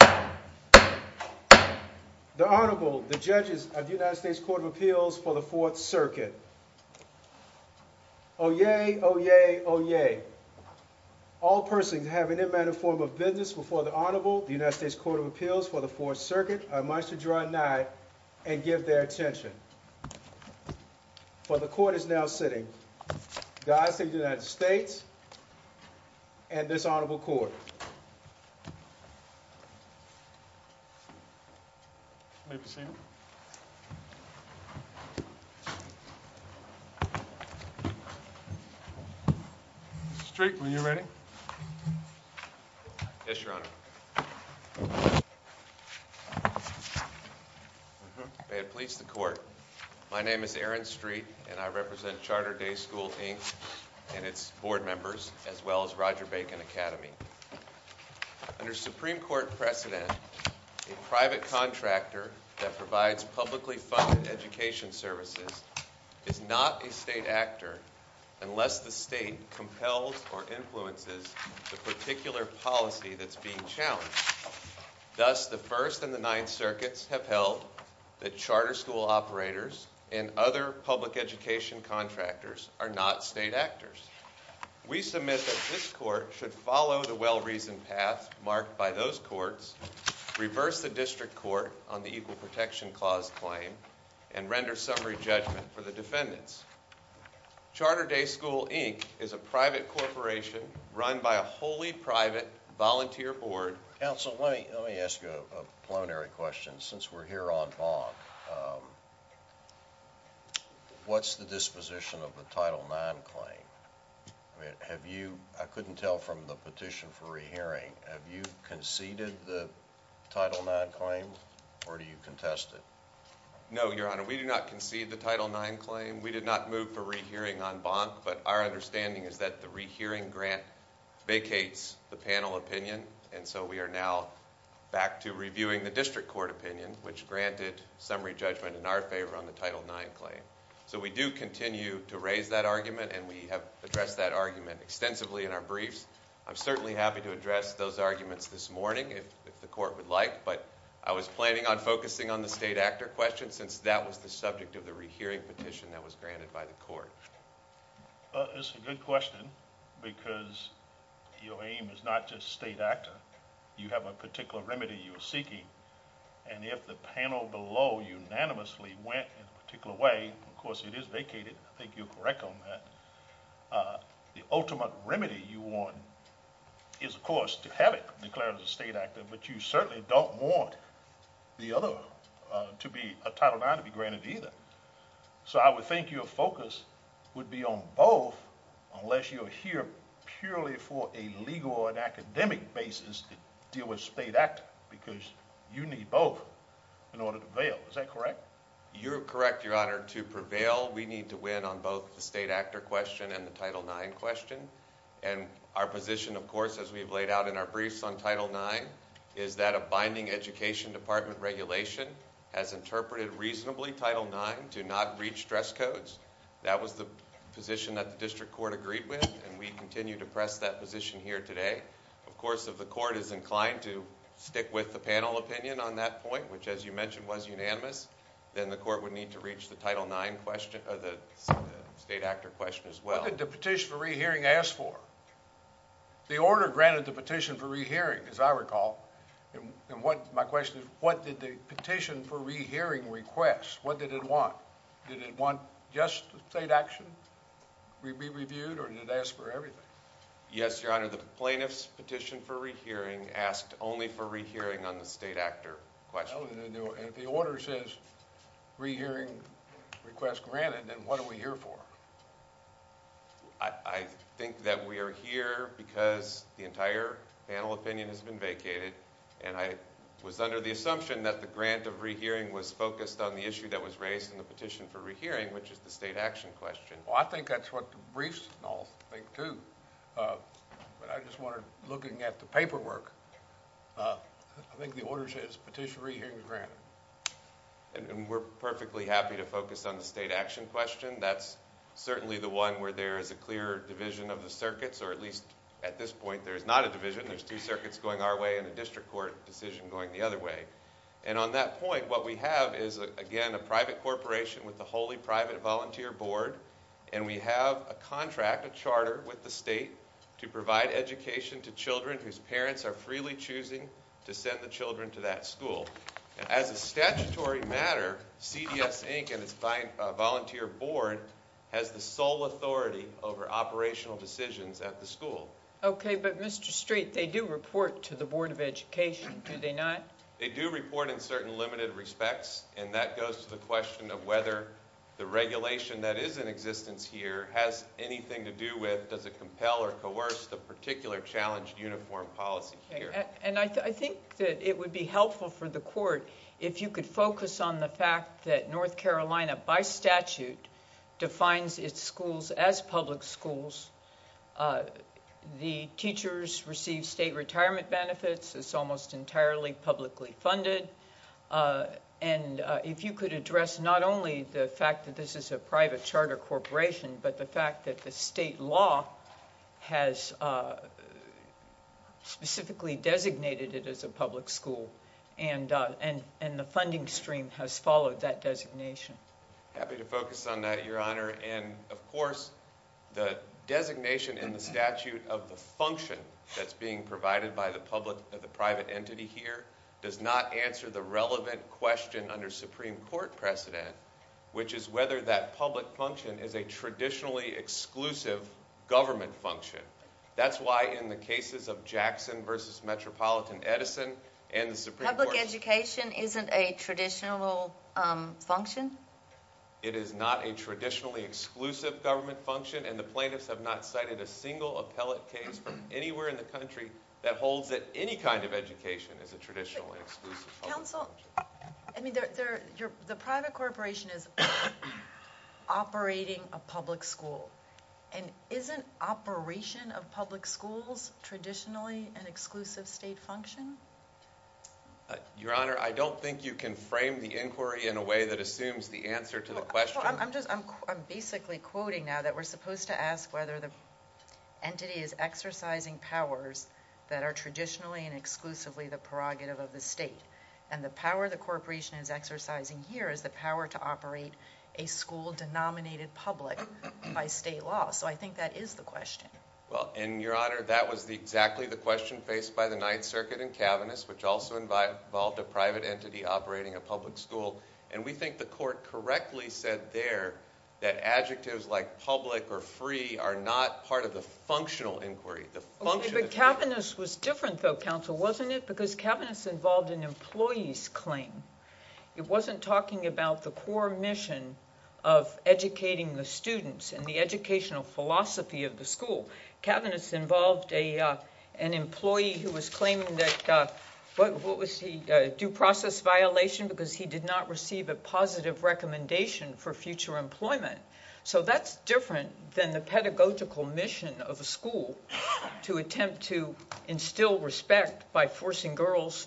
The Honorable, the Judges of the United States Court of Appeals for the Fourth Circuit. Oyez, oyez, oyez. All persons who have any matter or form of business before the Honorable, the United States Court of Appeals for the Fourth Circuit, are advised to draw a knife and give their attention. For the Court is now sitting, the eyes of the United States and this Honorable Court. Mr. Street, are you ready? Yes, Your Honor. May it please the Court, my name is Aaron Street and I represent Charter Day School, Inc. and its board members, as well as Roger Bacon Academy. Under Supreme Court precedent, a private contractor that provides publicly funded education services is not a state actor unless the state compels or influences the particular policy that's being challenged. Thus, the First and the Ninth Circuits have held that charter school operators and other public education contractors are not state actors. We submit that this Court should follow the well-reasoned path marked by those courts, reverse the district court on the Equal Protection Clause claim, and render summary judgment for the defendants. Charter Day School, Inc. is a private corporation run by a wholly private volunteer board. Counsel, let me ask you a plenary question. Since we're here on bond, what's the disposition of the Title IX claim? I couldn't tell from the petition for rehearing, have you conceded the Title IX claim or do you contest it? No, Your Honor, we do not concede the Title IX claim. We did not move for rehearing on bond, but our understanding is that the rehearing grant vacates the panel opinion, and so we are now back to reviewing the district court opinion, which granted summary judgment in our favor on the Title IX claim. So we do continue to raise that argument and we have addressed that argument extensively in our briefs. I'm certainly happy to address those arguments this morning if the Court would like, but I was planning on focusing on the state actor question since that was the subject of the rehearing petition that was granted by the Court. Well, it's a good question because your aim is not just state actor. You have a particular remedy you're seeking, and if the panel below unanimously went in a particular way, of course it is vacated. I think you're correct on that. The ultimate remedy you want is, of course, to have it declared as a state actor, but you certainly don't want the other to be a Title IX to be granted either. So I would think your focus would be on both unless you're here purely for a legal and academic basis to deal with state actor because you need both in order to bail. Is that correct? You're correct, Your Honor. To prevail, we need to win on both the state actor question and the Title IX question. And our position, of course, as we've laid out in our briefs on Title IX, is that a binding education department regulation has interpreted reasonably Title IX to not reach dress codes. That was the position that the district court agreed with, and we continue to press that position here today. Of course, if the court is inclined to stick with the panel opinion on that point, which, as you mentioned, was unanimous, then the court would need to reach the state actor question as well. What did the petition for rehearing ask for? The order granted the petition for rehearing, as I recall, and my question is, what did the petition for rehearing request? What did it want? Did it want just state action to be reviewed or did it ask for everything? Yes, Your Honor, the plaintiff's petition for rehearing asked only for rehearing on the state actor question. If the order says rehearing request granted, then what are we here for? I think that we are here because the entire panel opinion has been vacated, and I was under the assumption that the grant of rehearing was focused on the issue that was raised in the petition for rehearing, which is the state action question. Well, I think that's what the briefs all think, too. I just wondered, looking at the paperwork, I think the order says petition for rehearing is granted. We're perfectly happy to focus on the state action question. That's certainly the one where there's a clear division of the circuits, or at least at this point there's not a division. There's two circuits going our way and a district court decision going the other way. On that point, what we have is, again, a private corporation with a wholly private volunteer board, and we have a contract, a charter, with the state to provide education to children whose parents are freely choosing to send the children to that school. As a statutory matter, CBS Inc. and its volunteer board has the sole authority over operational decisions at the school. Okay, but Mr. Street, they do report to the Board of Education, do they not? They do report in certain limited respects, and that goes to the question of whether the regulation that is in existence here has anything to do with, does it compel or coerce the particular challenge uniform policy here. I think that it would be helpful for the court if you could focus on the fact that North Carolina, by statute, defines its schools as public schools. The teachers receive state retirement benefits. It's almost entirely publicly funded. If you could address not only the fact that this is a private charter corporation, but the fact that the state law has specifically designated it as a public school, and the funding stream has followed that designation. I'm happy to focus on that, Your Honor, and of course, the designation in the statute of the function that's being provided by the public and the private entity here does not answer the relevant question under Supreme Court precedent, which is whether that public function is a traditionally exclusive government function. That's why in the cases of Jackson v. Metropolitan Edison and the Supreme Court... Public education isn't a traditional function? It is not a traditionally exclusive government function, and the plaintiffs have not cited a single appellate case anywhere in the country that holds that any kind of education is a traditionally exclusive function. The private corporation is operating a public school, and isn't operation of public schools traditionally an exclusive state function? Your Honor, I don't think you can frame the inquiry in a way that assumes the answer to the question. I'm basically quoting now that we're supposed to ask whether the entity is exercising powers that are traditionally and exclusively the prerogative of the state, and the power the corporation is exercising here is the power to operate a school denominated public by state law, so I think that is the question. Well, and Your Honor, that was exactly the question faced by the Ninth Circuit and Kavanaugh's, which also involved a private entity operating a public school, and we think the court correctly said there that adjectives like public or free are not part of the functional inquiry. The Kavanaugh's was different though, Counsel, wasn't it? Because Kavanaugh's involved an employee's claim. It wasn't talking about the core mission of educating the students and the educational philosophy of the school. Kavanaugh's involved an employee who was claiming that, what was he, due process violation because he did not receive a positive recommendation for future employment. So that's different than the pedagogical mission of a school to attempt to instill respect by forcing girls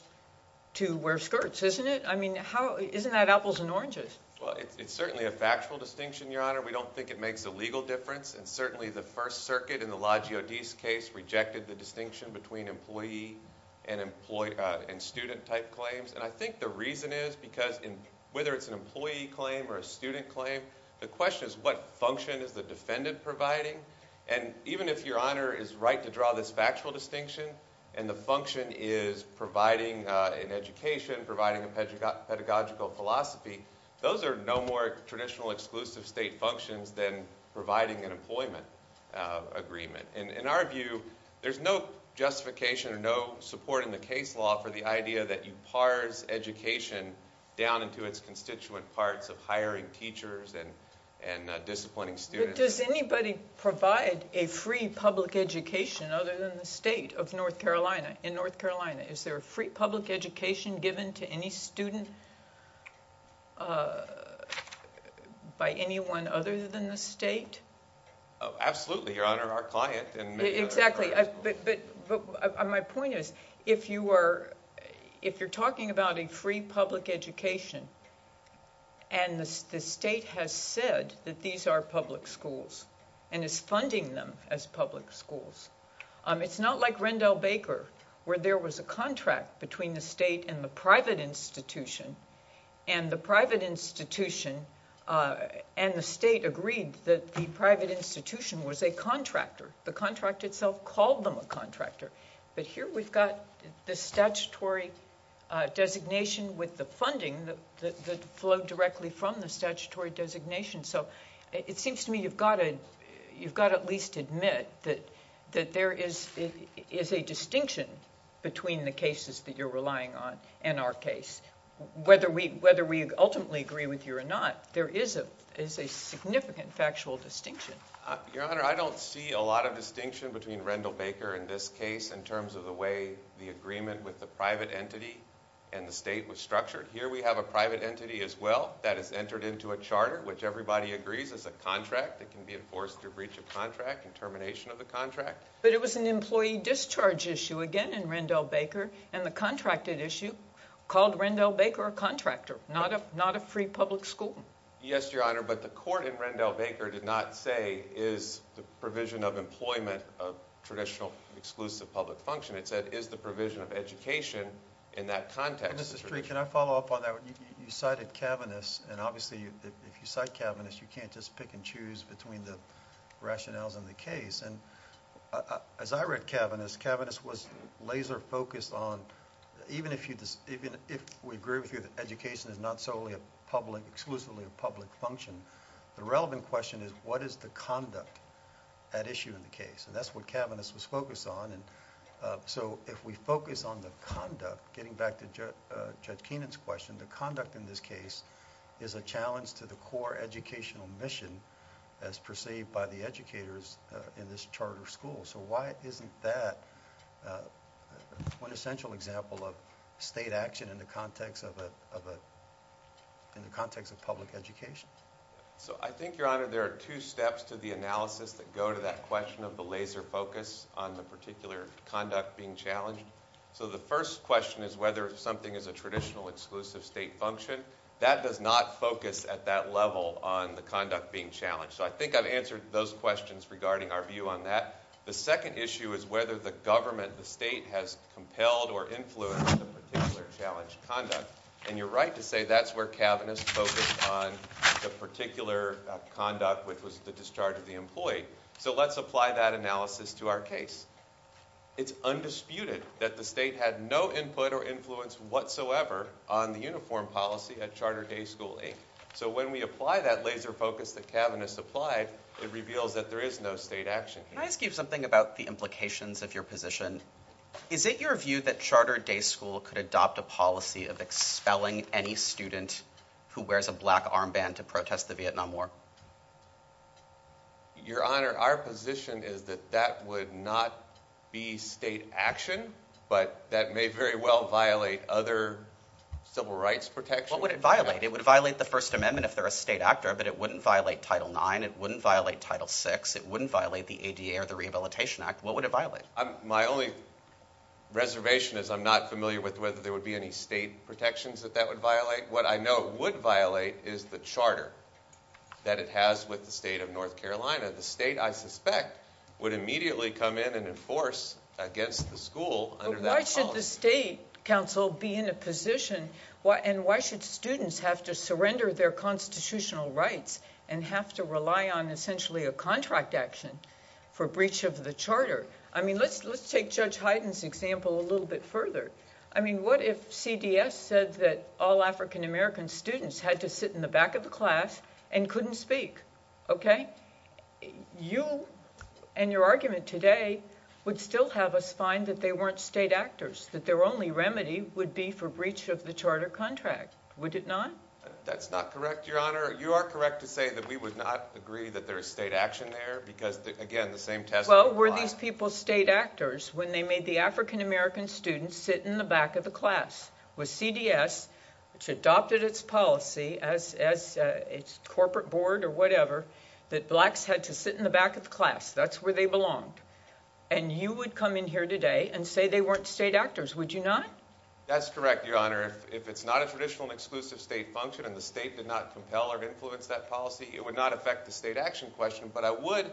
to wear skirts, isn't it? I mean, isn't that apples and oranges? Well, it's certainly a factual distinction, Your Honor. We don't think it makes a legal difference, and certainly the First Circuit in the Loggio Di's case rejected the distinction between employee and student type claims, and I think the reason is because whether it's an employee claim or a student claim, the question is what function is the defendant providing, and even if Your Honor is right to draw this factual distinction, and the function is providing an education, providing a pedagogical philosophy, those are no more traditional exclusive state functions than providing an employment agreement. In our view, there's no justification, no support in the case law for the idea that you parse education down into its constituent parts of hiring teachers and disciplining students. But does anybody provide a free public education other than the state of North Carolina? In North Carolina, is there a free public education given to any student by anyone other than the state? Absolutely, Your Honor, our client in Michigan. Exactly, but my point is if you're talking about a free public education and the state has said that these are public schools and is funding them as public schools, it's not like Rendell Baker where there was a contract between the state and the private institution, and the private institution and the state agreed that the private institution was a contractor. The contract itself called them a contractor, but here we've got the statutory designation with the funding that flowed directly from the statutory designation, so it seems to me you've got to at least admit that there is a distinction between the cases that you're relying on and our case. Whether we ultimately agree with you or not, there is a significant factual distinction. Your Honor, I don't see a lot of distinction between Rendell Baker and this case in terms of the way the agreement with the private entity and the state was structured. Here we have a private entity as well that has entered into a charter, which everybody agrees is a contract. It can be enforced through breach of contract and termination of the contract. But it was an employee discharge issue again in Rendell Baker, and the contracted issue called Rendell Baker a contractor, not a free public school. Yes, Your Honor, but the court in Rendell Baker did not say is the provision of employment of traditional exclusive public function. It said is the provision of education in that context. Can I follow up on that? You cited Kavanagh's, and obviously if you cite Kavanagh's, you can't just pick and choose between the rationales and the case. As I read Kavanagh's, Kavanagh's was laser focused on, even if we agree with you that education is not solely a public, exclusively a public function, the relevant question is what is the conduct, that issue in the case? That's what Kavanagh's was focused on, so if we focus on the conduct, getting back to Jeff Keenan's question, the conduct in this case is a challenge to the core educational mission as perceived by the educators in this charter school. So why isn't that an essential example of state action in the context of public education? So I think, Your Honor, there are two steps to the analysis that go to that question of the laser focus on the particular conduct being challenged. So the first question is whether something is a traditional exclusive state function. That does not focus at that level on the conduct being challenged. So I think I've answered those questions regarding our view on that. The second issue is whether the government, the state, has compelled or influenced the particular challenged conduct. And you're right to say that's where Kavanagh's focused on the particular conduct which was the discharge of the employee. So let's apply that analysis to our case. It's undisputed that the state had no influence whatsoever on the uniform policy at Charter Day School 8. So when we apply that laser focus that Kavanagh's applied, it reveals that there is no state action. Let me ask you something about the implications of your position. Is it your view that Charter Day School could adopt a policy of expelling any student who wears a black armband to protest the Vietnam War? Your Honor, our position is that that would not be state action, but that may very well violate other civil rights protections. What would it violate? It would violate the First Amendment if they're a state actor, but it wouldn't violate Title IX. It wouldn't violate Title VI. It wouldn't violate the ADA or the Rehabilitation Act. What would it violate? My only reservation is I'm not familiar with whether there would be any state protections that that would violate. What I know it would violate is the charter that it has with the state of North Carolina. The state, I suspect, would immediately come in and enforce against the school under that policy. Why should the State Council be in a position, and why should students have to surrender their constitutional rights and have to rely on essentially a contract action for breach of the charter? Let's take Judge Hyden's example a little bit further. What if CDS said that all African American students had to sit in the back of the class and couldn't speak? You and your argument today would still have us find that they weren't state actors, that their only remedy would be for breach of the charter contract. Would it not? That's not correct, Your Honor. You are correct to say that we would not agree that there is state action there because, again, the same test applies. Well, were these people state actors when they made the African American students sit in the back of the class? Was CDS, which adopted its policy as its corporate board or whatever, that blacks had to sit in the back of the class? That's where they belonged. And you would come in here today and say they weren't state actors, would you not? That's correct, Your Honor. If it's not a traditional and exclusive state function and the state did not compel or influence that policy, it would not affect the state action question, but I would...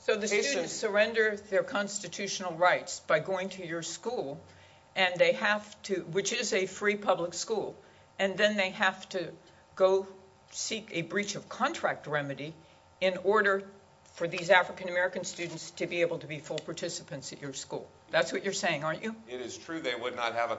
So the students surrender their constitutional rights by going to your school, which is a free public school, and then they have to go seek a breach of contract remedy in order for these African American students to be able to be full participants at your school. That's what you're saying, aren't you?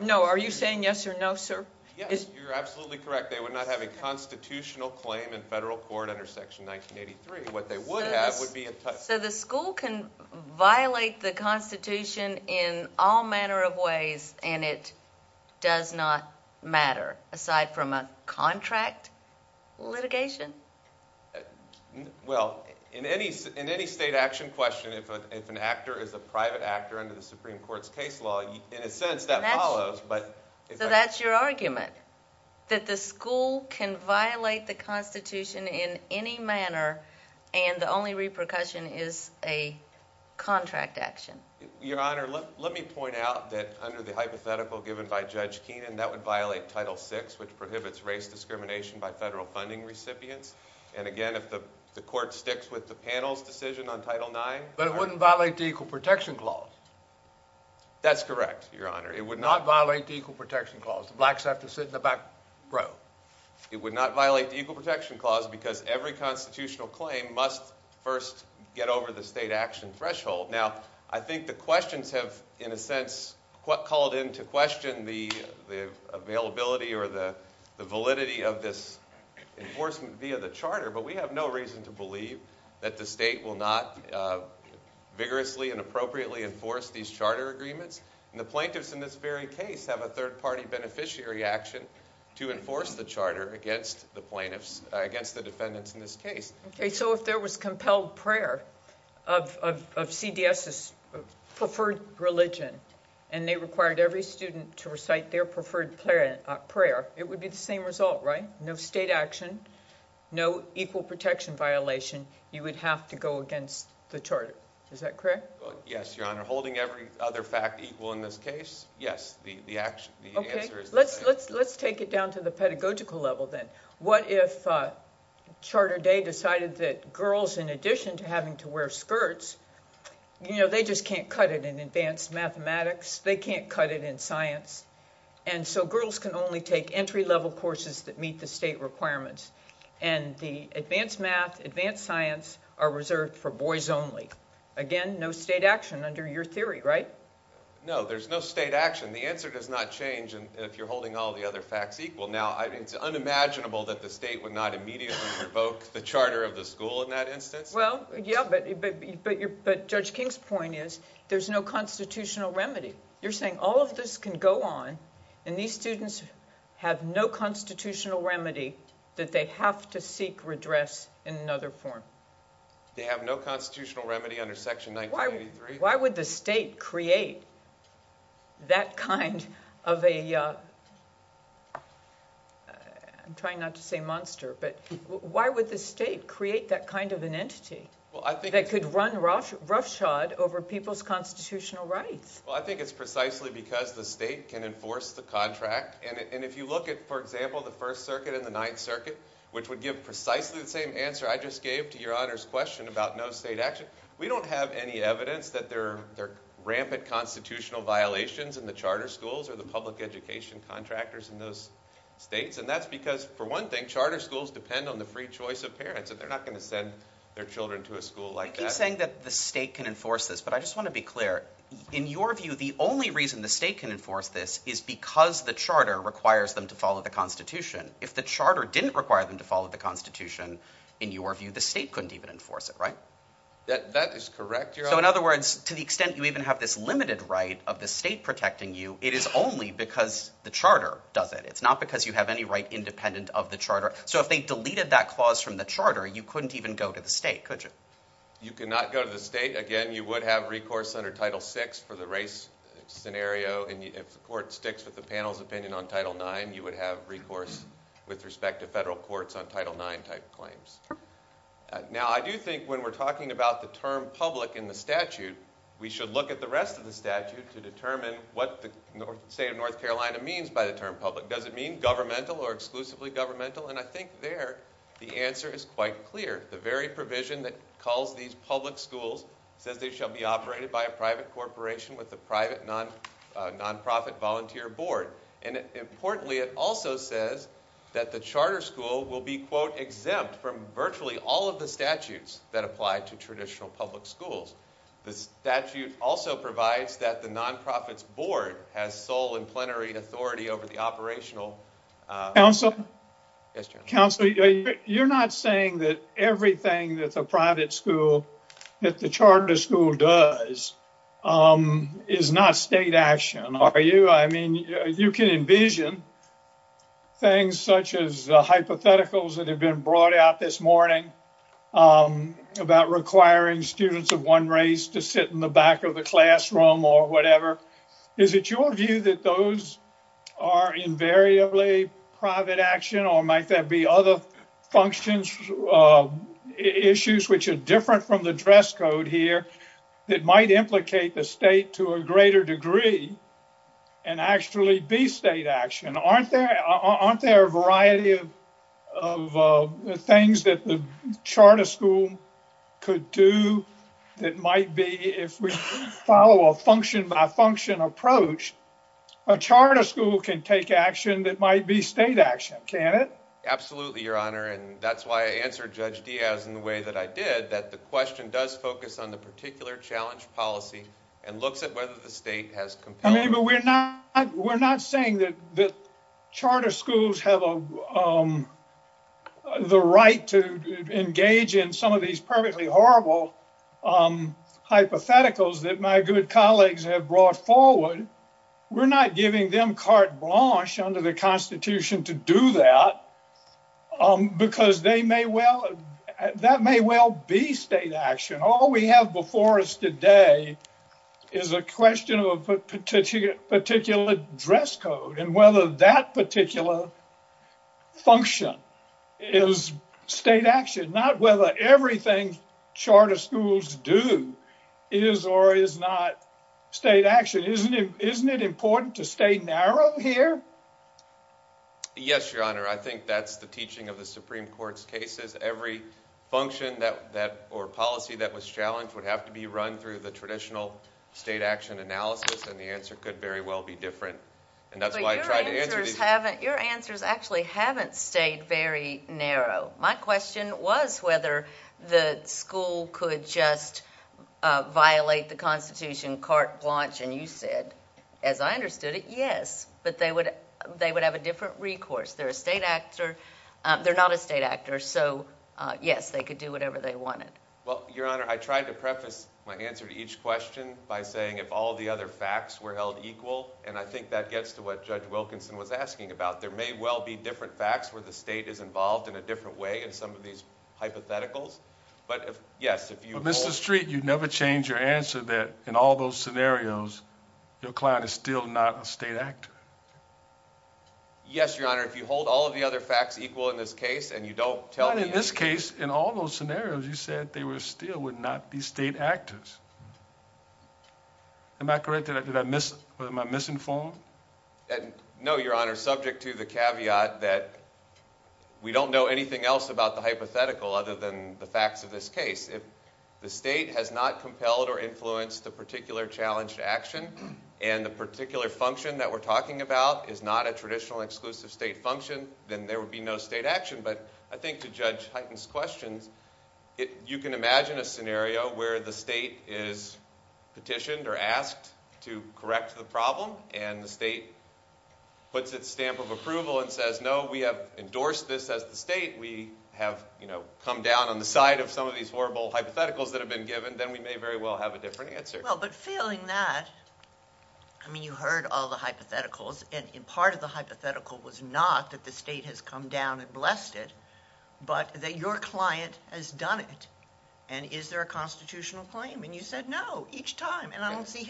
No, are you saying yes or no, sir? Yes, you're absolutely correct. They would not have a constitutional claim in federal court under Section 1983. What they would have would be... So the school can violate the Constitution in all manner of ways and it does not matter, aside from a contract litigation? Well, in any state action question, if an actor is a private actor under the Supreme Court's case law, and it says that follows, but... So that's your argument, that the school can violate the Constitution in any manner and the only repercussion is a contract action? Your Honor, let me point out that under the hypothetical given by Judge Keenan, that would violate Title VI, which prohibits race discrimination by federal funding recipients, and again, if the court sticks with the panel's decision on Title IX... But it wouldn't violate the Equal Protection Clause. That's correct, Your Honor. It would not violate the Equal Protection Clause. The blacks have to sit in the back row. It would not violate the Equal Protection Clause because every constitutional claim must first get over the state action threshold. Now, I think the questions have, in a sense, called into question the availability or the validity of this enforcement via the charter, but we have no reason to believe that the state will not vigorously and appropriately enforce these charter agreements. The plaintiffs in this very case have a third-party beneficiary action to enforce the charter against the defendants in this case. Okay, so if there was compelled prayer of CDS's preferred religion, and they required every student to recite their preferred prayer, it would be the same result, right? No state action, no equal protection violation, you would have to go against the charter. Is that correct? Yes, Your Honor. Holding every other fact equal in this case, yes. Okay, let's take it down to the pedagogical level then. What if Charter Day decided that girls, in addition to having to wear skirts, they just can't cut it in advanced mathematics, they can't cut it in science. And so girls can only take entry-level courses that meet the state requirements. And the advanced math, advanced science are reserved for boys only. Again, no state action under your theory, right? No, there's no state action. The answer does not change if you're holding all the other facts equal. Now, it's unimaginable that the state would not immediately revoke the charter of the school in that instance. Well, yeah, but Judge King's point is there's no constitutional remedy. You're saying all of this can go on, and these students have no constitutional remedy that they have to seek redress in another form. They have no constitutional remedy under Section 1983. Why would the state create that kind of a, I'm trying not to say monster, but why would the state create that kind of an entity that could run roughshod over people's constitutional rights? Well, I think it's precisely because the state can enforce the contract. And if you look at, for example, the First Circuit and the Ninth Circuit, which would give precisely the same answer I just gave to your Honor's question about no state action, we don't have any evidence that there are rampant constitutional violations in the charter schools or the public education contractors in those states. And that's because, for one thing, charter schools depend on the free choice of parents. They're not going to send their children to a school like that. I keep saying that the state can enforce this, but I just want to be clear. In your view, the only reason the state can enforce this is because the charter requires them to follow the Constitution. If the charter didn't require them to follow the Constitution, in your view, the state couldn't even enforce it, right? That is correct, Your Honor. So in other words, to the extent you even have this limited right of the state protecting you, it is only because the charter does it. It's not because you have any right independent of the charter. So if they deleted that clause from the charter, you couldn't even go to the state, could you? You could not go to the state. Again, you would have recourse under Title VI for the race scenario. And if the court sticks with the panel's opinion on Title IX, you would have recourse with respect to federal courts on Title IX type of claims. Now, I do think when we're talking about the term public in the statute, we should look at the rest of the statute to determine what the state of North Carolina means by the term public. Does it mean governmental or exclusively governmental? And I think there the answer is quite clear. The very provision that calls these public schools that they shall be operated by a private corporation with a private nonprofit volunteer board. And importantly, it also says that the charter school will be, quote, exempt from virtually all of the statutes that apply to traditional public schools. The statute also provides that the nonprofit's board has sole and plenary authority over the operational Counsel? Yes, Your Honor. Counsel, you're not saying that everything that the private school, that the charter school does, is not state action, are you? I mean, you can envision things such as the hypotheticals that have been brought out this morning about requiring students of one race to sit in the back of the classroom or whatever. Is it your view that those are invariably private action or might there be other functions, issues, which are different from the dress code here that might implicate the state to a greater degree and actually be state action? Aren't there a variety of things that the charter school could do that might be, if we follow a function by function approach, a charter school can take action that might be state action, can it? Absolutely, Your Honor. And that's why I answered Judge Diaz in the way that I did, that the question does focus on the particular challenge policy and looks at whether the state has compelled it. But we're not saying that charter schools have the right to engage in some of these perfectly horrible hypotheticals that my good colleagues have brought forward. We're not giving them carte blanche under the Constitution to do that because that may well be state action. All we have before us today is a question of a particular dress code and whether that particular function is state action, not whether everything charter schools do is or is not state action. Isn't it important to stay narrow here? Yes, Your Honor. I think that's the teaching of the Supreme Court's cases. Every function or policy that was challenged would have to be run through the traditional state action analysis, and the answer could very well be different. Your answers actually haven't stayed very narrow. My question was whether the school could just violate the Constitution carte blanche, and you said, as I understood it, yes. But they would have a different recourse. They're a state actor. They're not a state actor, so yes, they could do whatever they wanted. Well, Your Honor, I tried to preface my answer to each question by saying if all the other facts were held equal, and I think that gets to what Judge Wilkinson was asking about. There may well be different facts where the state is involved in a different way in some of these hypotheticals. But, Mr. Street, you never changed your answer that in all those scenarios, your client is still not a state actor. Yes, Your Honor. If you hold all of the other facts equal in this case and you don't tell me… Well, in this case, in all those scenarios, you said they were still not the state actors. Am I correct? Am I misinformed? No, Your Honor. I'm subject to the caveat that we don't know anything else about the hypothetical other than the facts of this case. If the state has not compelled or influenced a particular challenge to action and the particular function that we're talking about is not a traditional exclusive state function, then there would be no state action. But I think to Judge Hyten's question, you can imagine a scenario where the state is petitioned or asked to correct the problem and the state puts its stamp of approval and says, no, we have endorsed this as the state, we have come down on the side of some of these horrible hypotheticals that have been given, then we may very well have a different answer. Well, but feeling that, I mean, you heard all the hypotheticals, and part of the hypothetical was not that the state has come down and blessed it, but that your client has done it. And is there a constitutional claim? And you said no each time, and I don't think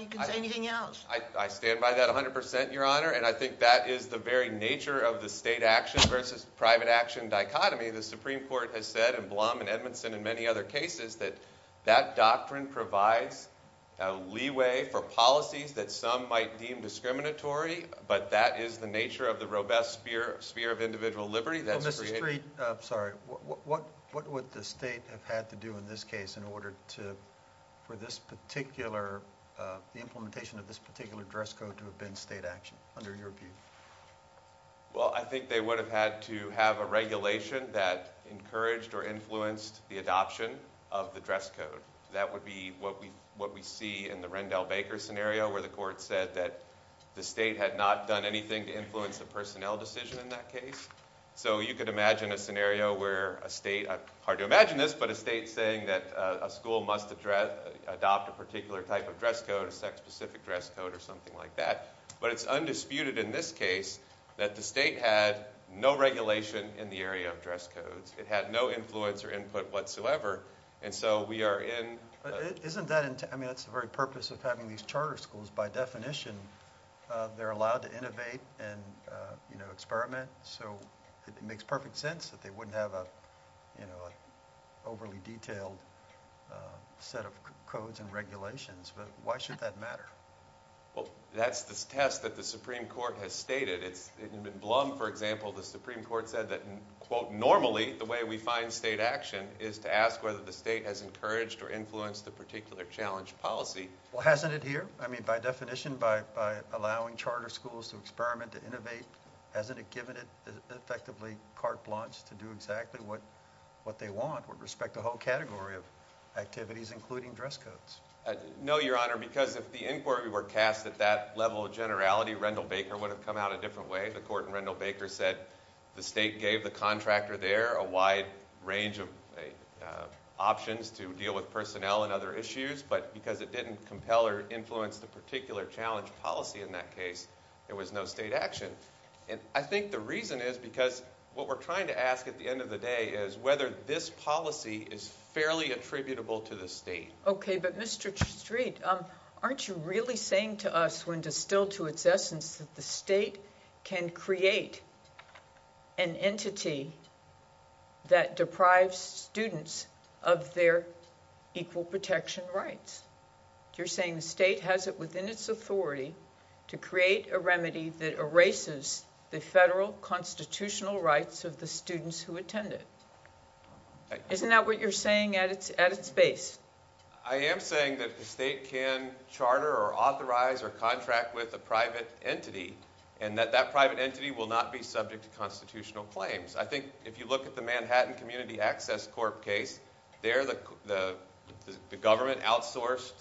you can say anything else. I stand by that 100%, Your Honor, and I think that is the very nature of the state action versus private action dichotomy. The Supreme Court has said, and Blum and Edmondson and many other cases, that that doctrine provides a leeway for policies that some might deem discriminatory, but that is the nature of the robust sphere of individual liberty. Mr. Street, what would the state have had to do in this case in order for the implementation of this particular dress code to have been state action under your view? Well, I think they would have had to have a regulation that encouraged or influenced the adoption of the dress code. That would be what we see in the Rendell Baker scenario where the court said that the state had not done anything to influence the personnel decision in that case. So you could imagine a scenario where a state, it's hard to imagine this, but a state saying that a school must adopt a particular type of dress code, a sex-specific dress code or something like that. But it's undisputed in this case that the state had no regulation in the area of dress codes. It had no influence or input whatsoever, and so we are in... But isn't that, I mean, that's the very purpose of having these charter schools. By definition, they're allowed to innovate and experiment. So it makes perfect sense that they wouldn't have an overly detailed set of codes and regulations. But why should that matter? Well, that's the test that the Supreme Court has stated. In Blum, for example, the Supreme Court said that, quote, normally the way we find state action is to ask whether the state has encouraged or influenced a particular challenge policy. Well, hasn't it here? I mean, by definition, by allowing charter schools to experiment, to innovate, hasn't it given it effectively carte blanche to do exactly what they want with respect to the whole category of activities, including dress codes? No, Your Honor, because if the inquiry were cast at that level of generality, Rendall Baker would have come out a different way. The court in Rendall Baker said the state gave the contractor there a wide range of options to deal with personnel and other issues, but because it didn't compel or influence the particular challenge policy in that case, there was no state action. And I think the reason is because what we're trying to ask at the end of the day is whether this policy is fairly attributable to the state. Okay, but Mr. Streat, aren't you really saying to us when distilled to its essence that the state can create an entity that deprives students of their equal protection rights? You're saying the state has it within its authority to create a remedy that erases the federal constitutional rights of the students who attend it. Isn't that what you're saying at its base? I am saying that the state can charter or authorize or contract with a private entity and that that private entity will not be subject to constitutional claims. I think if you look at the Manhattan Community Access Court case, there the government outsourced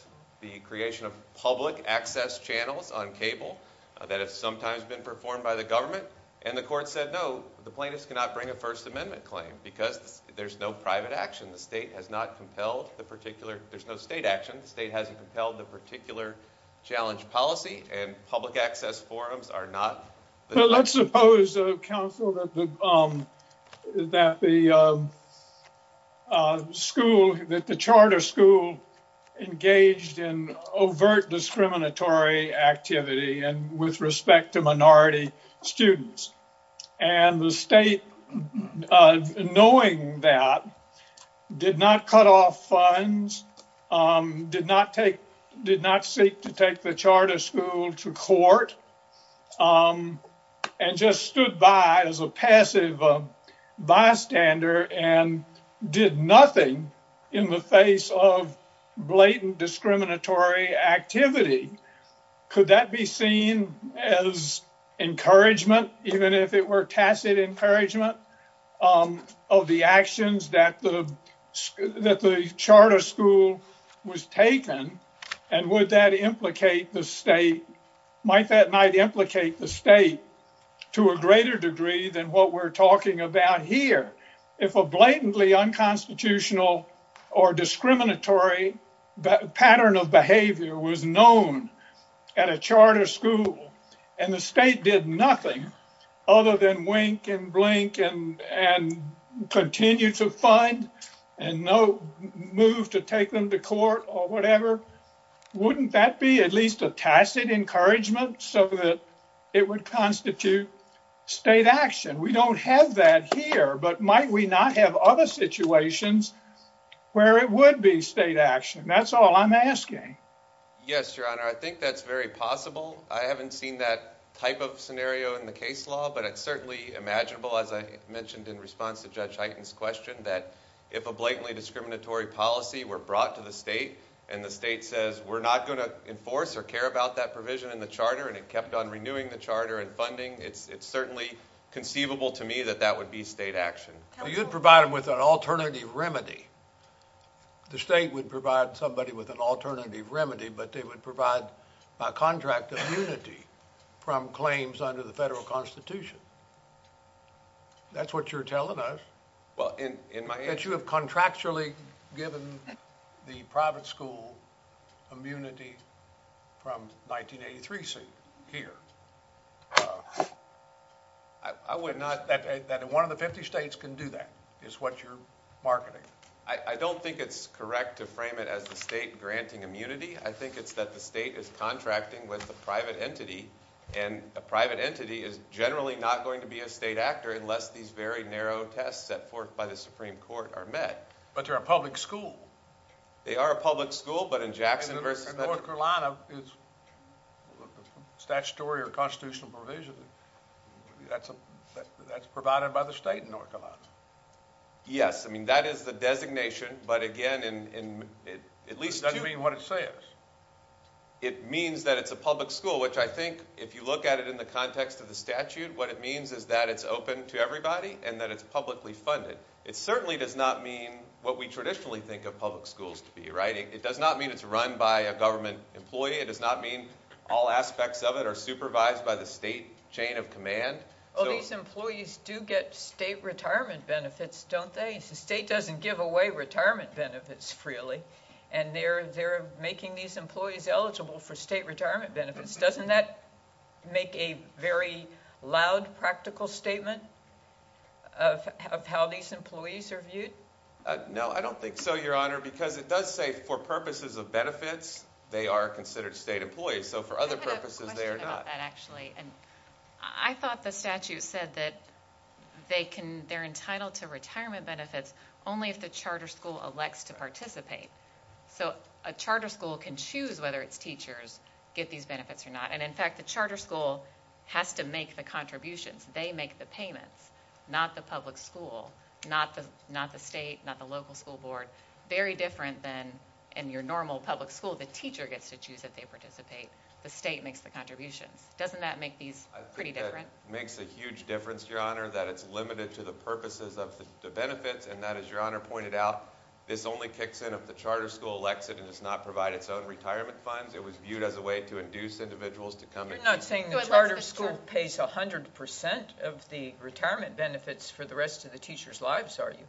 the creation of public access channels on cable that have sometimes been performed by the government, and the court said no, the plaintiffs cannot bring a First Amendment claim because there's no private action. The state has not compelled the particular – there's no state action. The state hasn't compelled the particular challenge policy, and public access forums are not – Well, let's suppose, counsel, that the charter school engaged in overt discriminatory activity and with respect to minority students. And the state, knowing that, did not cut off funds, did not seek to take the charter school to court, and just stood by as a passive bystander and did nothing in the face of blatant discriminatory activity. Could that be seen as encouragement, even if it were tacit encouragement, of the actions that the charter school was taking? And would that implicate the state – might that not implicate the state to a greater degree than what we're talking about here? If a blatantly unconstitutional or discriminatory pattern of behavior was known at a charter school and the state did nothing other than wink and blink and continue to fund, and no move to take them to court or whatever, wouldn't that be at least a tacit encouragement so that it would constitute state action? We don't have that here, but might we not have other situations where it would be state action? That's all I'm asking. Yes, Your Honor, I think that's very possible. I haven't seen that type of scenario in the case law, but it's certainly imaginable, as I mentioned in response to Judge Heighten's question, that if a blatantly discriminatory policy were brought to the state and the state says, we're not going to enforce or care about that provision in the charter and it kept on renewing the charter and funding, it's certainly conceivable to me that that would be state action. You'd provide them with an alternative remedy. The state would provide somebody with an alternative remedy, but they would provide contract immunity from claims under the federal Constitution. That's what you're telling us. You have contractually given the private school immunity from 1983C here. One of the 50 states can do that is what you're marketing. I don't think it's correct to frame it as the state granting immunity. I think it's that the state is contracting with a private entity, and a private entity is generally not going to be a state actor unless these very narrow tests set forth by the Supreme Court are met. But they're a public school. They are a public school, but in Jackson versus— In North Carolina, it's statutory or constitutional provision. That's provided by the state in North Carolina. Yes. I mean, that is the designation, but again— At least that's what it says. It means that it's a public school, which I think, if you look at it in the context of the statute, what it means is that it's open to everybody and that it's publicly funded. It certainly does not mean what we traditionally think of public schools to be. It does not mean it's run by a government employee. It does not mean all aspects of it are supervised by the state chain of command. Well, these employees do get state retirement benefits, don't they? The state doesn't give away retirement benefits freely, and they're making these employees eligible for state retirement benefits. Doesn't that make a very loud practical statement of how these employees are viewed? No, I don't think so, Your Honor, because it does say, for purposes of benefits, they are considered state employees. So for other purposes, they are not. I have a question about that, actually. I thought the statute said that they're entitled to retirement benefits only if the charter school elects to participate. So a charter school can choose whether its teachers get these benefits or not, and in fact, the charter school has to make the contributions. They make the payments, not the public school, not the state, not the local school board. Very different than in your normal public school. The teacher gets to choose if they participate. The state makes the contributions. Doesn't that make these pretty different? It makes a huge difference, Your Honor, that it's limited to the purposes of the benefits and that, as Your Honor pointed out, this only kicks in if the charter school elects it and does not provide its own retirement funds. It was viewed as a way to induce individuals to come and choose. You're not saying the charter school pays 100% of the retirement benefits for the rest of the teacher's lives, are you?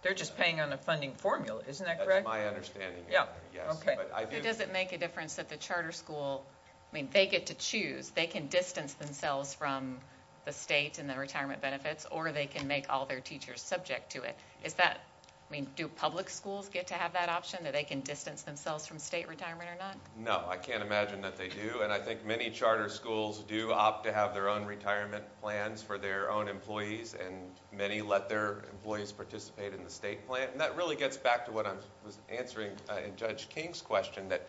They're just paying on a funding formula. Isn't that correct? That's my understanding. Yeah, okay. It doesn't make a difference that the charter school, I mean, they get to choose. They can distance themselves from the state and the retirement benefits, or they can make all their teachers subject to it. I mean, do public schools get to have that option, that they can distance themselves from state retirement or not? No, I can't imagine that they do, and I think many charter schools do opt to have their own retirement plans for their own employees, and many let their employees participate in the state plan. And that really gets back to what I was answering in Judge King's question, that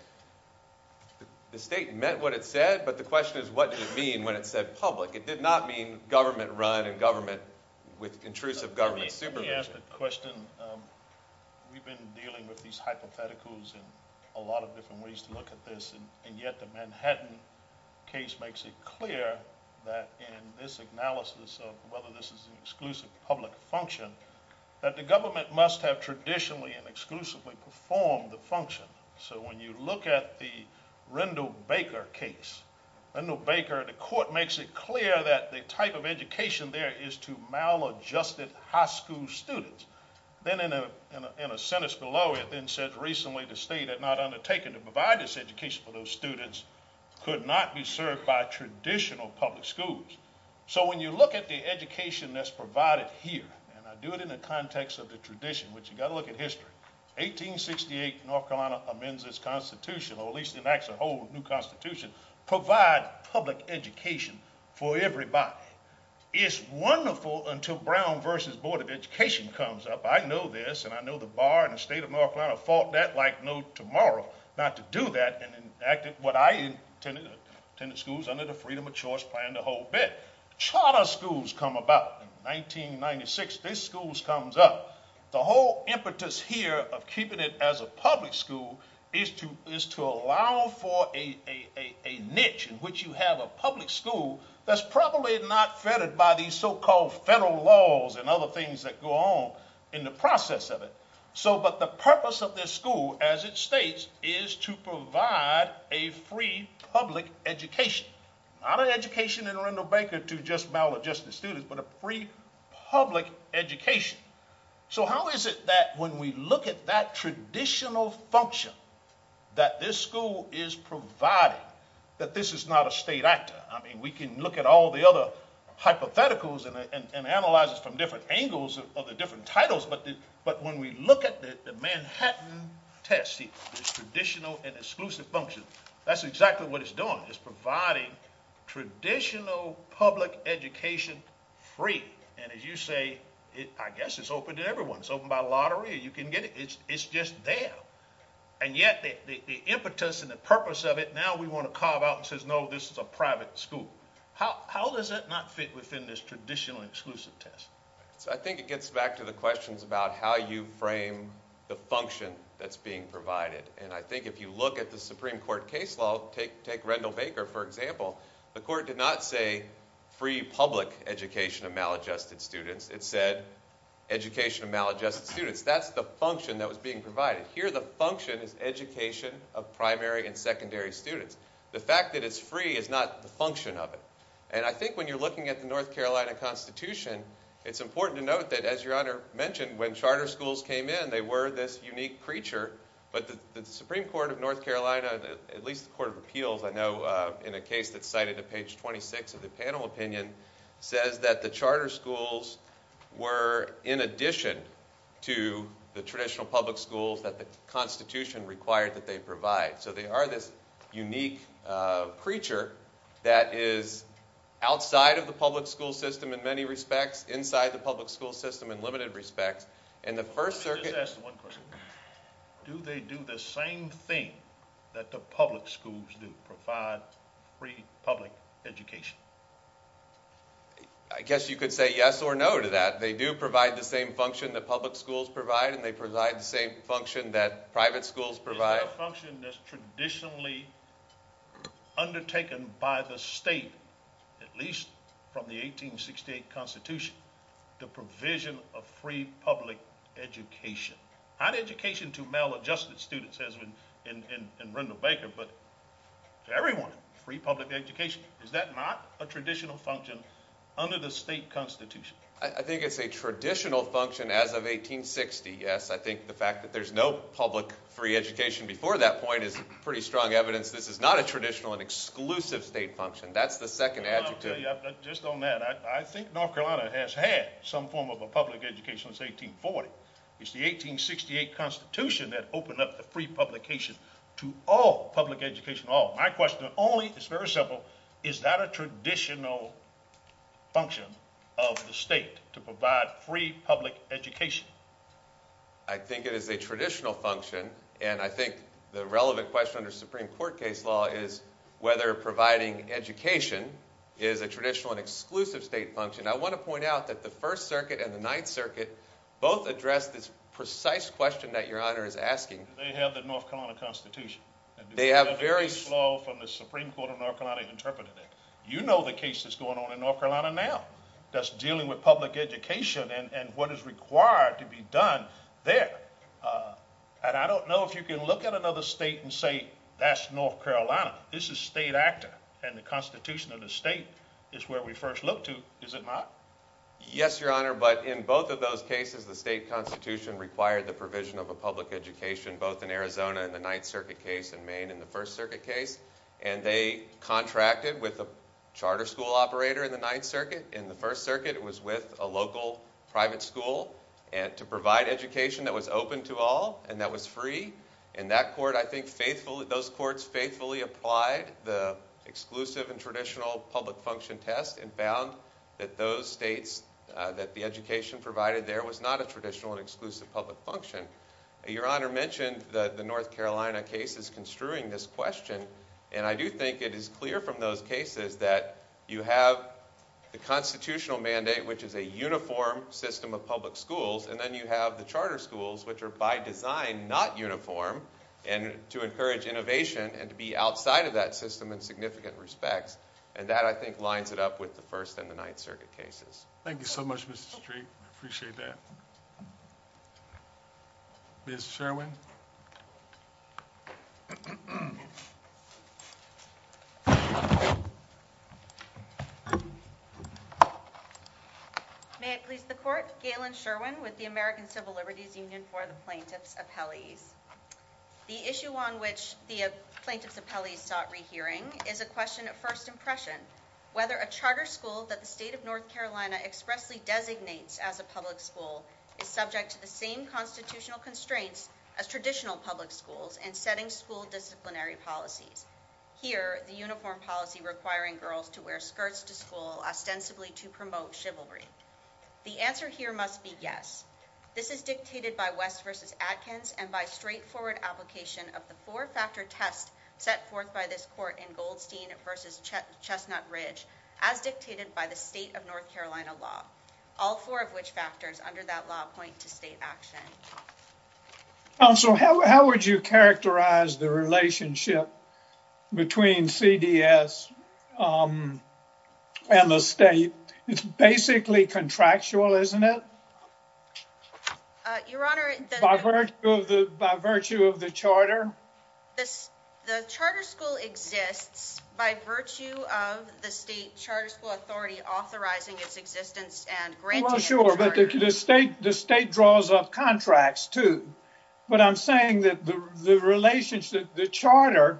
the state meant what it said, but the question is, what did it mean when it said public? It did not mean government-run and government with intrusive government. Let me ask a question. We've been dealing with these hypotheticals in a lot of different ways to look at this, and yet the Manhattan case makes it clear that in this analysis of whether this is an exclusive public function, that the government must have traditionally and exclusively performed the function. So when you look at the Rendell Baker case, Rendell Baker, the court makes it clear that the type of education there is to maladjusted high school students. Then in a sentence below it then said, recently the state had not undertaken to provide this education for those students, could not be served by traditional public schools. So when you look at the education that's provided here, and I do it in the context of the tradition, but you've got to look at history. 1868, North Carolina amends this constitution, or at least it acts as a whole new constitution, to provide public education for everybody. It's wonderful until Brown v. Board of Education comes up. I know this, and I know the bar in the state of North Carolina fought that like no tomorrow, not to do that and enacted what I intended, schools under the freedom of choice, planned the whole bit. Charter schools come about. In 1996, these schools comes up. The whole impetus here of keeping it as a public school is to allow for a niche in which you have a public school that's probably not threaded by these so-called federal laws and other things that go on in the process of it. But the purpose of this school, as it states, is to provide a free public education. Not an education in Rendell Baker to just maladjusted students, but a free public education. So how is it that when we look at that traditional function that this school is providing, that this is not a state actor? I mean, we can look at all the other hypotheticals and analyze it from different angles of the different titles, but when we look at the Manhattan test, this traditional and exclusive function, that's exactly what it's doing. It's providing traditional public education free. And as you say, I guess it's open to everyone. It's open by lottery. You can get it. It's just there. And yet the impetus and the purpose of it, now we want to carve out and say, no, this is a private school. How does that not fit within this traditional exclusive test? I think it gets back to the questions about how you frame the function that's being provided. And I think if you look at the Supreme Court case law, take Rendell Baker for example, the court did not say free public education of maladjusted students. It said education of maladjusted students. That's the function that was being provided. Here the function is education of primary and secondary students. The fact that it's free is not the function of it. And I think when you're looking at the North Carolina Constitution, it's important to note that, as Your Honor mentioned, when charter schools came in, they were this unique creature, but the Supreme Court of North Carolina, at least the Court of Appeals I know in a case that's cited at page 26 of the panel opinion, says that the charter schools were in addition to the traditional public schools that the Constitution required that they provide. So they are this unique creature that is outside of the public school system in many respects, inside the public school system in limited respects. Let me ask you one question. Do they do the same thing that the public schools do, provide free public education? I guess you could say yes or no to that. They do provide the same function that public schools provide and they provide the same function that private schools provide. Is there a function that's traditionally undertaken by the state, at least from the 1868 Constitution, the provision of free public education? Not education to male adjusted students as in Randall Baker, but to everyone, free public education. Is that not a traditional function under the state Constitution? I think it's a traditional function as of 1860, yes. I think the fact that there's no public free education before that point is pretty strong evidence that this is not a traditional and exclusive state function. That's the second adjective. Just on that, I think North Carolina has had some form of a public education since 1840. It's the 1868 Constitution that opened up the free publication to all public education, all. My question only, it's very simple, is that a traditional function of the state to provide free public education? I think it is a traditional function and I think the relevant question under Supreme Court case law is whether providing education is a traditional and exclusive state function. I want to point out that the First Circuit and the Ninth Circuit both addressed this precise question that Your Honor is asking. They have the North Carolina Constitution. They have very... It's law from the Supreme Court of North Carolina interpreted it. You know the case that's going on in North Carolina now that's dealing with public education and what is required to be done there. I don't know if you can look at another state and say that's North Carolina. This is state active and the Constitution of the state is where we first look to. Is it not? Yes, Your Honor, but in both of those cases the state Constitution required the provision of a public education both in Arizona in the Ninth Circuit case and Maine in the First Circuit case. They contracted with a charter school operator in the Ninth Circuit. In the First Circuit it was with a local private school to provide education that was open to all and that was free. And that court I think faithfully... Those courts faithfully applied the exclusive and traditional public function test and found that those states that the education provided there was not a traditional and exclusive public function. Your Honor mentioned the North Carolina case is construing this question and I do think it is clear from those cases that you have the constitutional mandate which is a uniform system of public schools and then you have the charter schools which are by design not uniform and to encourage innovation and to be outside of that system in significant respect and that I think lines it up with the First and the Ninth Circuit cases. Thank you so much, Mr. Street. I appreciate that. Ms. Sherwin? May it please the Court, Galen Sherwin with the American Civil Liberties Union for the Plaintiffs' Appellees. The issue on which the Plaintiffs' Appellees sought rehearing is a question of first impression. Whether a charter school that the state of North Carolina expressly designates as a public school is subject to the same constitutional constraints as traditional public schools in setting school disciplinary policies. Here, the uniform policy requiring girls to wear skirts to school ostensibly to promote chivalry. The answer here must be yes. This is dictated by West v. Adkins and by straightforward application of the four-factor test set forth by this Court in Goldstein v. Chestnut Ridge as dictated by the state of North Carolina law. All four of which factors under that law point to state action. Counsel, how would you characterize the relationship between CDS and the state? It's basically contractual, isn't it? Your Honor... By virtue of the charter? The charter school exists by virtue of the state charter school authority Well, sure, but the state draws off contracts, too. But I'm saying that the charter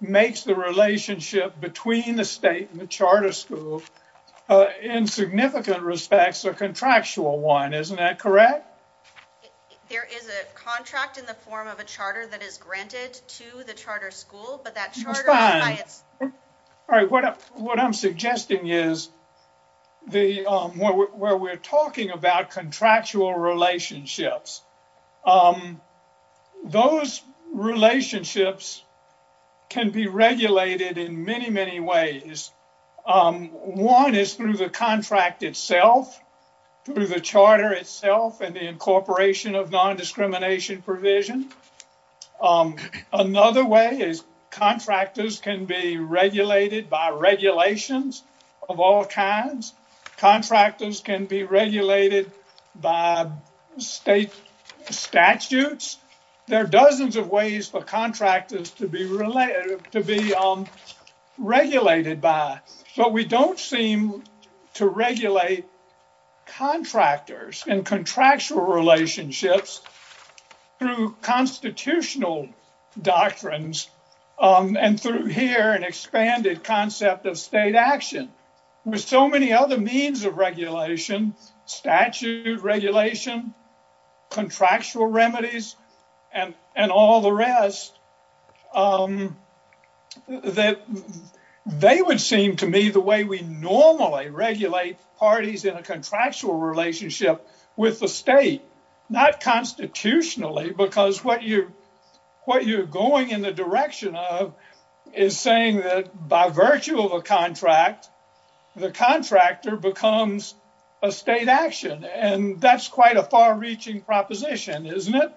makes the relationship between the state and the charter school in significant respects a contractual one. Isn't that correct? There is a contract in the form of a charter that is granted to the charter school, but that charter... What I'm suggesting is where we're talking about contractual relationships. Those relationships can be regulated in many, many ways. One is through the contract itself, through the charter itself and the incorporation of non-discrimination provisions. Another way is contractors can be regulated by regulations of all kinds. Contractors can be regulated by state statutes. There are dozens of ways for contractors to be regulated by, but we don't seem to regulate contractors in contractual relationships through constitutional doctrines and through here an expanded concept of state action. There are so many other means of regulation, statute regulation, contractual remedies, and all the rest, that they would seem to me the way we normally regulate parties in a contractual relationship with the state, not constitutionally, because what you're going in the direction of is saying that by virtue of a contract, the contractor becomes a state action. That's quite a far-reaching proposition, isn't it?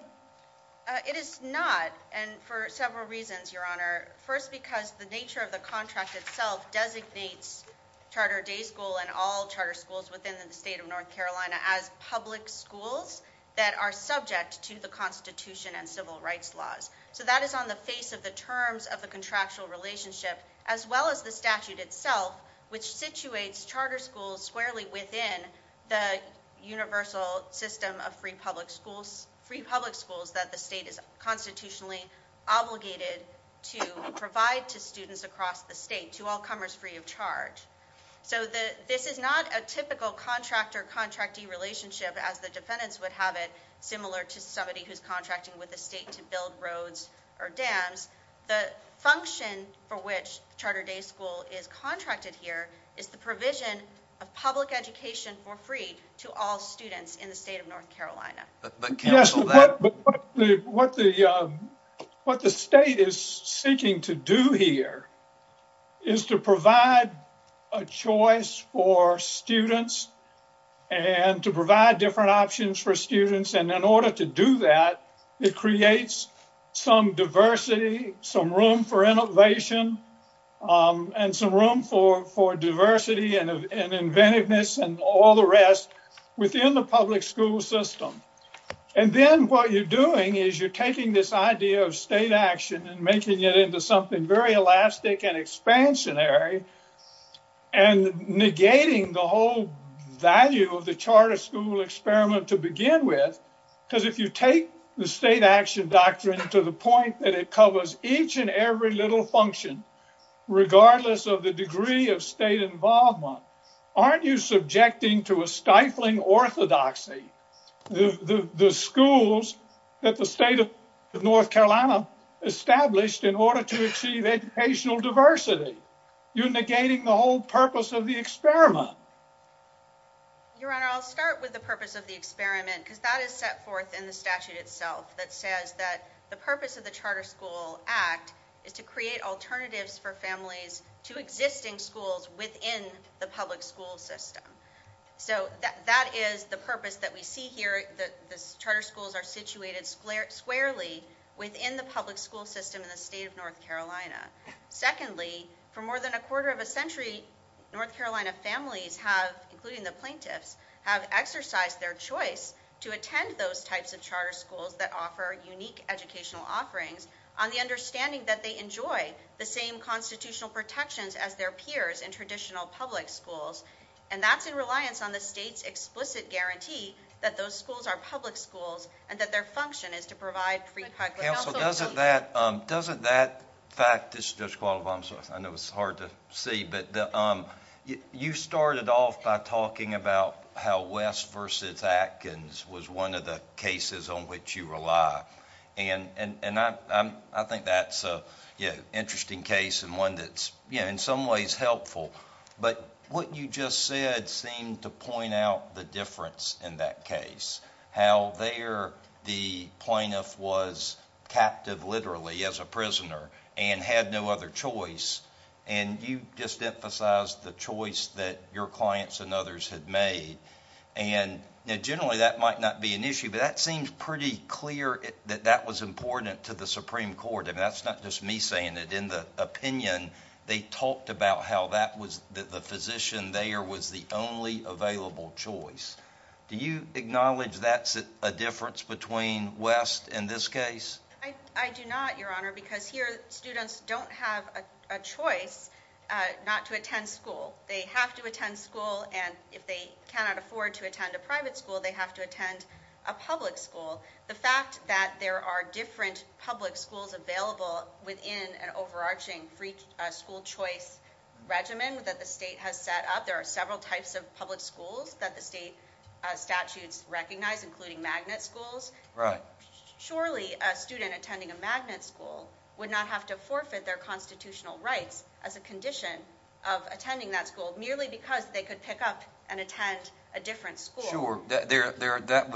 It is not, and for several reasons, Your Honor. First, because the nature of the contract itself designates Charter Day School and all charter schools within the state of North Carolina as public schools that are subject to the Constitution and civil rights laws. That is on the face of the terms of the contractual relationship, as well as the statute itself, which situates charter schools squarely within the universal system of free public schools that the state is constitutionally obligated to provide to students across the state, to all comers free of charge. So this is not a typical contractor-contracting relationship, as the defendants would have it, similar to somebody who's contracting with the state to build roads or dams. The function for which Charter Day School is contracted here is the provision of public education for free to all students in the state of North Carolina. Yes, what the state is seeking to do here is to provide a choice for students and to provide different options for students, and in order to do that, it creates some diversity, some room for innovation, and some room for diversity and inventiveness and all the rest within the public school system. And then what you're doing is you're taking this idea of state action and making it into something very elastic and expansionary, and negating the whole value of the charter school experiment to begin with, because if you take the state action doctrine to the point that it covers each and every little function, regardless of the degree of state involvement, aren't you subjecting to a stifling orthodoxy the schools that the state of North Carolina established in order to achieve educational diversity? You're negating the whole purpose of the experiment. Your Honor, I'll start with the purpose of the experiment, because that is set forth in the statute itself that says that the purpose of the Charter School Act is to create alternatives for families to existing schools within the public school system. So that is the purpose that we see here. The charter schools are situated squarely within the public school system in the state of North Carolina. Secondly, for more than a quarter of a century, North Carolina families have, including the plaintiffs, have exercised their choice to attend those types of charter schools that offer unique educational offerings on the understanding that they enjoy the same constitutional protections as their peers in traditional public schools. And that's in reliance on the state's explicit guarantee that those schools are public schools and that their function is to provide free private health. Counsel, doesn't that fact, I know it's hard to see, but you started off by talking about how West v. Atkins was one of the cases on which you rely. And I think that's an interesting case and one that's in some ways helpful. But what you just said seemed to point out the difference in that case, how there the plaintiff was captive literally as a prisoner and had no other choice. And you just emphasized the choice that your clients and others had made. And generally that might not be an issue, but that seems pretty clear that that was important to the Supreme Court. And that's not just me saying it. In the opinion, they talked about how the physician there was the only available choice. Do you acknowledge that's a difference between West and this case? I do not, Your Honor, because here students don't have a choice not to attend school. They have to attend school, and if they cannot afford to attend a private school, they have to attend a public school. The fact that there are different public schools available within an overarching free school choice regimen that the state has set up, there are several types of public schools that the state statutes recognize, including magnet schools. Surely a student attending a magnet school would not have to forfeit their constitutional rights as a condition of attending that school merely because they could pick up and attend a different school. Sure. That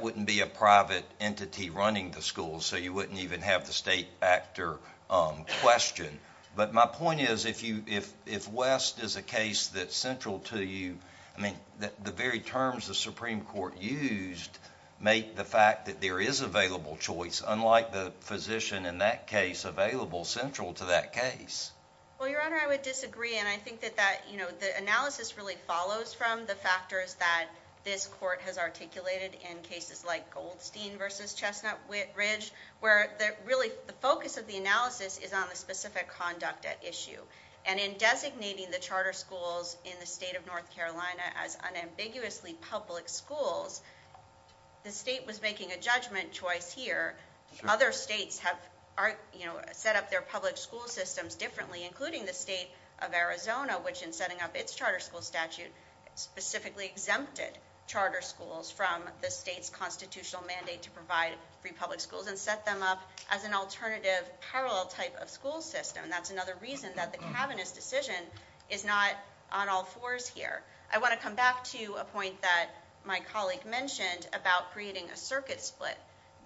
wouldn't be a private entity running the school, so you wouldn't even have the state factor question. But my point is if West is a case that's central to you, the very terms the Supreme Court used make the fact that there is available choice, unlike the physician in that case, available, central to that case. Well, Your Honor, I would disagree, and I think that the analysis really follows from the factors that this court has articulated in cases like Goldstein v. Chestnut Ridge, where really the focus of the analysis is on a specific conduct at issue. And in designating the charter schools in the state of North Carolina as unambiguously public schools, the state was making a judgment twice here. Other states have set up their public school systems differently, including the state of Arizona, which in setting up its charter school statute specifically exempted charter schools from the state's constitutional mandate to provide free public schools and set them up as an alternative parallel type of school system. That's another reason that the cabinet's decision is not on all fours here. I want to come back to a point that my colleague mentioned about creating a circuit split.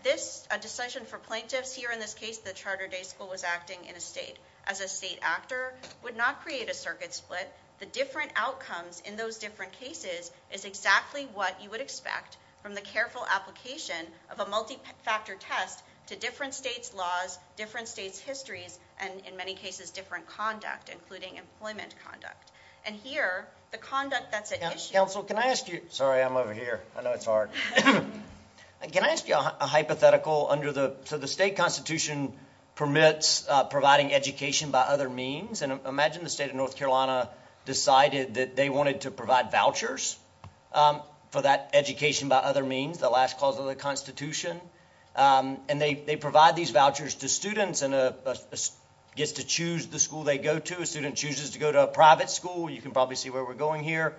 This, a decision for plaintiffs here in this case, the charter day school was acting in a state as a state actor, would not create a circuit split. The different outcomes in those different cases is exactly what you would expect from the careful application of a multi-factor test to different states' laws, different states' histories, and in many cases different conduct, including employment conduct. And here, the conduct that's at issue- Counsel, can I ask you- sorry, I'm over here. I know it's hard. Can I ask you a hypothetical under the- so the state constitution permits providing education by other means. And imagine the state of North Carolina decided that they wanted to provide vouchers for that education by other means, the last clause of the constitution. And they provide these vouchers to students, and a- gets to choose the school they go to. A student chooses to go to a private school. You can probably see where we're going here,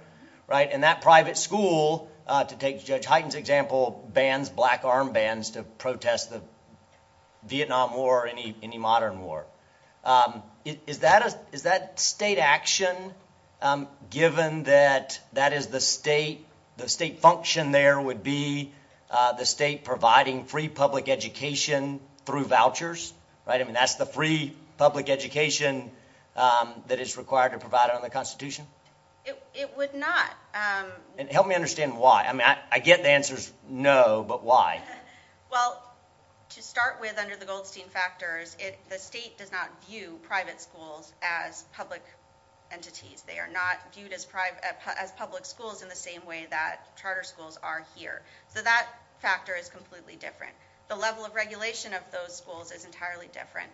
right? And that private school, to take Judge Hyten's example, bans black arm bands to protest the Vietnam War or any modern war. Is that a- is that state action, given that that is the state- the state function there would be the state providing free public education through vouchers, right? I mean, that's the free public education that is required to provide under the constitution? It would not. And help me understand why. I mean, I get the answer's no, but why? Well, to start with, under the Goldstein factors, the state does not view private schools as public entities. They are not viewed as private- as public schools in the same way that charter schools are here. So that factor is completely different. The level of regulation of those schools is entirely different.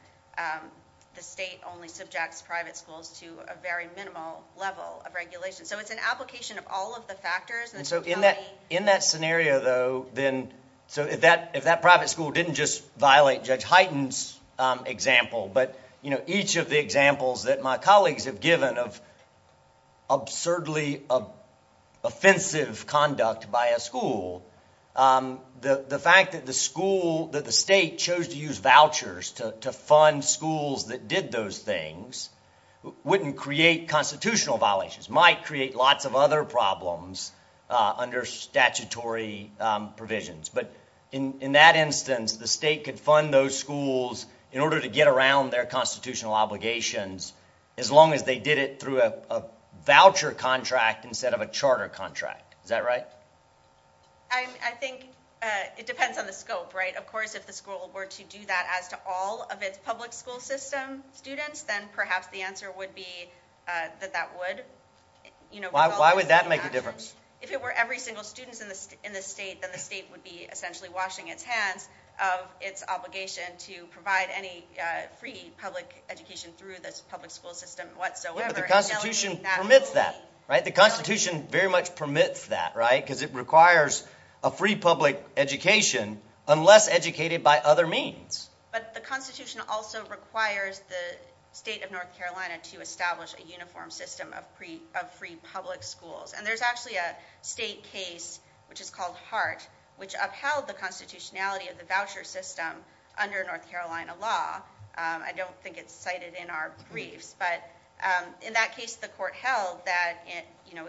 The state only subjects private schools to a very minimal level of regulation. So it's an application of all of the factors. And so in that- in that scenario, though, then- so if that- if that private school didn't just violate Judge Hyten's example, but, you know, each of the examples that my colleagues have given of absurdly offensive conduct by a school, the fact that the school- that the state chose to use vouchers to fund schools that did those things wouldn't create constitutional violations. It might create lots of other problems under statutory provisions. But in that instance, the state could fund those schools in order to get around their constitutional obligations as long as they did it through a voucher contract instead of a charter contract. Is that right? I think it depends on the scope, right? Of course, if the school were to do that as to all of its public school system students, then perhaps the answer would be that that would. Why would that make a difference? If it were every single student in the state, then the state would be essentially washing its hands of its obligation to provide any free public education through the public school system whatsoever. But the Constitution permits that, right? The Constitution very much permits that, right? Because it requires a free public education unless educated by other means. But the Constitution also requires the state of North Carolina to establish a uniform system of free public schools. And there's actually a state case, which is called Hart, which upheld the constitutionality of the voucher system under North Carolina law. I don't think it's cited in our brief. But in that case, the court held that in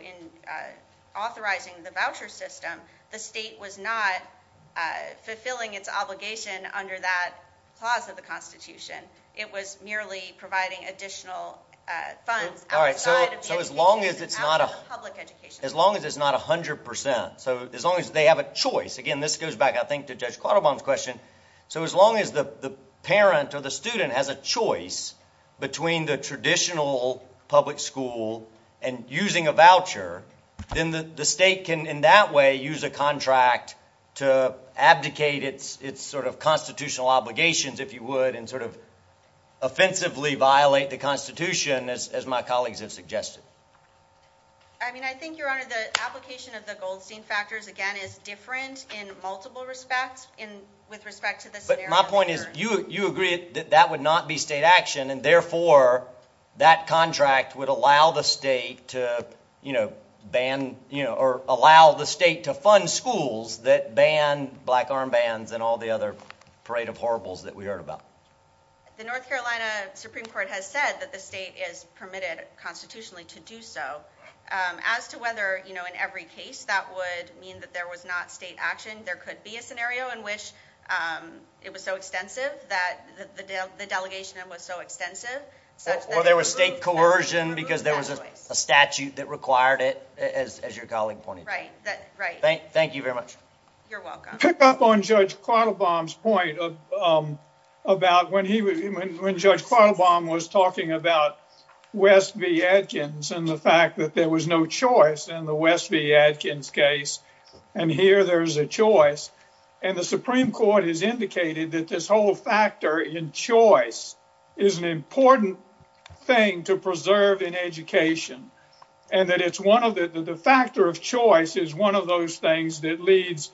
authorizing the voucher system, the state was not fulfilling its obligation under that clause of the Constitution. It was merely providing additional funds. All right, so as long as it's not 100%, so as long as they have a choice. Again, this goes back, I think, to Judge Clauterbaum's question. So as long as the parent or the student has a choice between the traditional public school and using a voucher, then the state can in that way use a contract to abdicate its sort of constitutional obligations, if you would, and sort of offensively violate the Constitution, as my colleagues have suggested. I mean, I think, Your Honor, the application of the Goldstein factors, again, is different in multiple respects with respect to the scenario. But my point is, you agreed that that would not be state action, and therefore that contract would allow the state to, you know, ban, or allow the state to fund schools that ban black armbands and all the other parade of horribles that we heard about. The North Carolina Supreme Court has said that the state is permitted constitutionally to do so. As to whether, you know, in every case that would mean that there was not state action, there could be a scenario in which it was so extensive that the delegation was so extensive. Or there was state coercion because there was a statute that required it, as your colleague pointed out. Right, right. Thank you very much. You're welcome. To pick up on Judge Quattlebaum's point about when Judge Quattlebaum was talking about West v. Adkins and the fact that there was no choice in the West v. Adkins case, and here there's a choice, and the Supreme Court has indicated that this whole factor in choice is an important thing to preserve in education, and that the factor of choice is one of those things that leads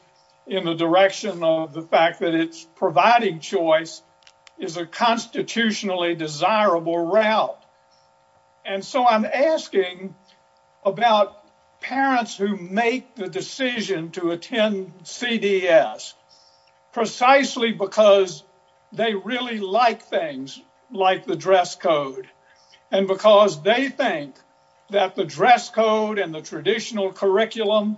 in the direction of the fact that it's providing choice is a constitutionally desirable route. And so I'm asking about parents who make the decision to attend CDS precisely because they really like things like the dress code and because they think that the dress code and the traditional curriculum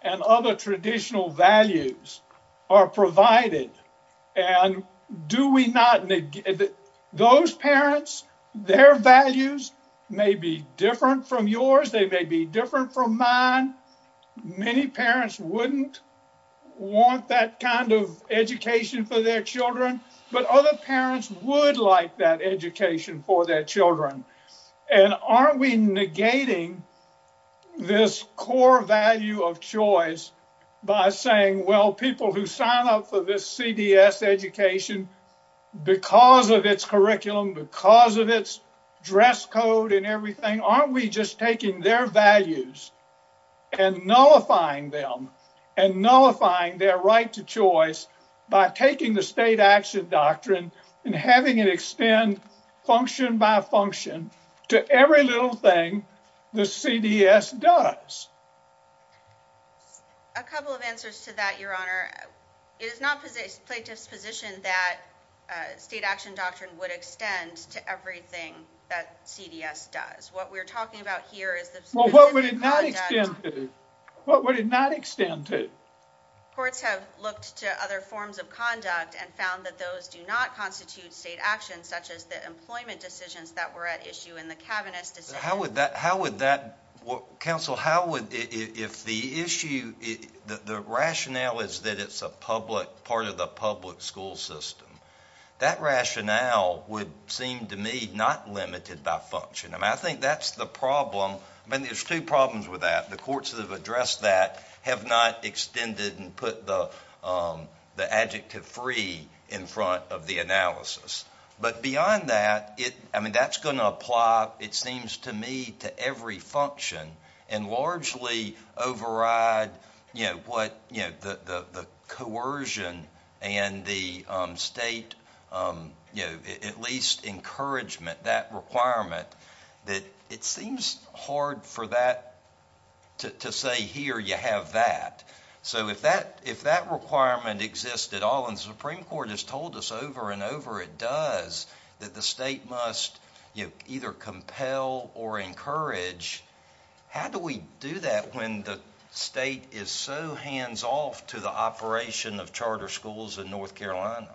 and other traditional values are provided. And do we not negate it? Those parents, their values may be different from yours. They may be different from mine. Many parents wouldn't want that kind of education for their children, but other parents would like that education for their children. And aren't we negating this core value of choice by saying, well, people who sign up for this CDS education because of its curriculum, because of its dress code and everything, aren't we just taking their values and nullifying them and nullifying their right to choice by taking the state action doctrine and having it extend function by function to every little thing the CDS does? A couple of answers to that, Your Honor. It is not the plaintiff's position that state action doctrine would extend to everything that CDS does. What we're talking about here is the... Well, what would it not extend to? What would it not extend to? Courts have looked to other forms of conduct and found that those do not constitute state action, such as the employment decisions that were at issue in the cabinet decision. How would that... Counsel, how would... If the issue... The rationale is that it's a part of the public school system. That rationale would seem to me not limited by function. And I think that's the problem. I mean, there's two problems with that. The courts that have addressed that have not extended and put the adjective free in front of the analysis. But beyond that, I mean, that's going to apply, it seems to me, to every function and largely override the coercion and the state, at least, encouragement, that requirement, that it seems hard for that to say, here, you have that. So if that requirement exists at all, and the Supreme Court has told us over and over it does, that the state must either compel or encourage, how do we do that when the state is so hands-off to the operation of charter schools in North Carolina?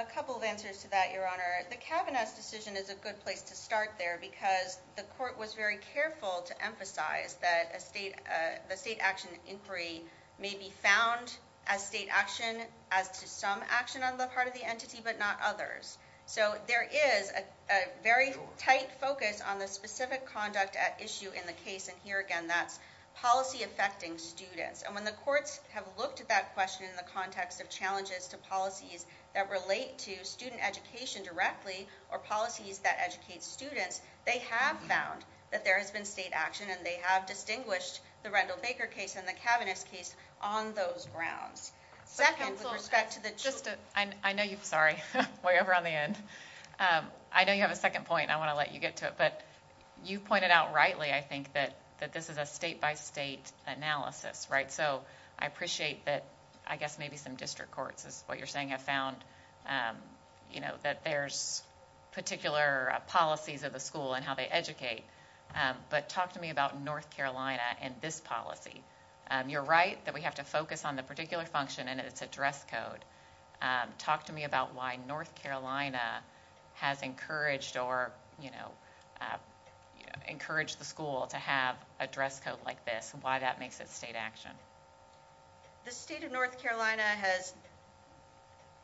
A couple of answers to that, Your Honor. The Kavanaugh decision is a good place to start there because the court was very careful to emphasize that the state action inquiry may be found as state action as to some action on the part of the entity but not others. So there is a very tight focus on the specific conduct at issue in the case, and here again, that's policy affecting students. And when the courts have looked at that question in the context of challenges to policies that relate to student education directly or policies that educate students, they have found that there has been state action, and they have distinguished the Randall-Baker case and the Kavanaugh case on those grounds. Second, with respect to the... I know you have a second point, and I want to let you get to it, but you pointed out rightly, I think, that this is a state-by-state analysis, right? So I appreciate that, I guess maybe some district courts, is what you're saying, have found that there's particular policies of the school and how they educate, but talk to me about North Carolina and this policy. You're right that we have to focus on the particular function and its address code. Talk to me about why North Carolina has encouraged the school to have a dress code like this, and why that makes it state action. The state of North Carolina has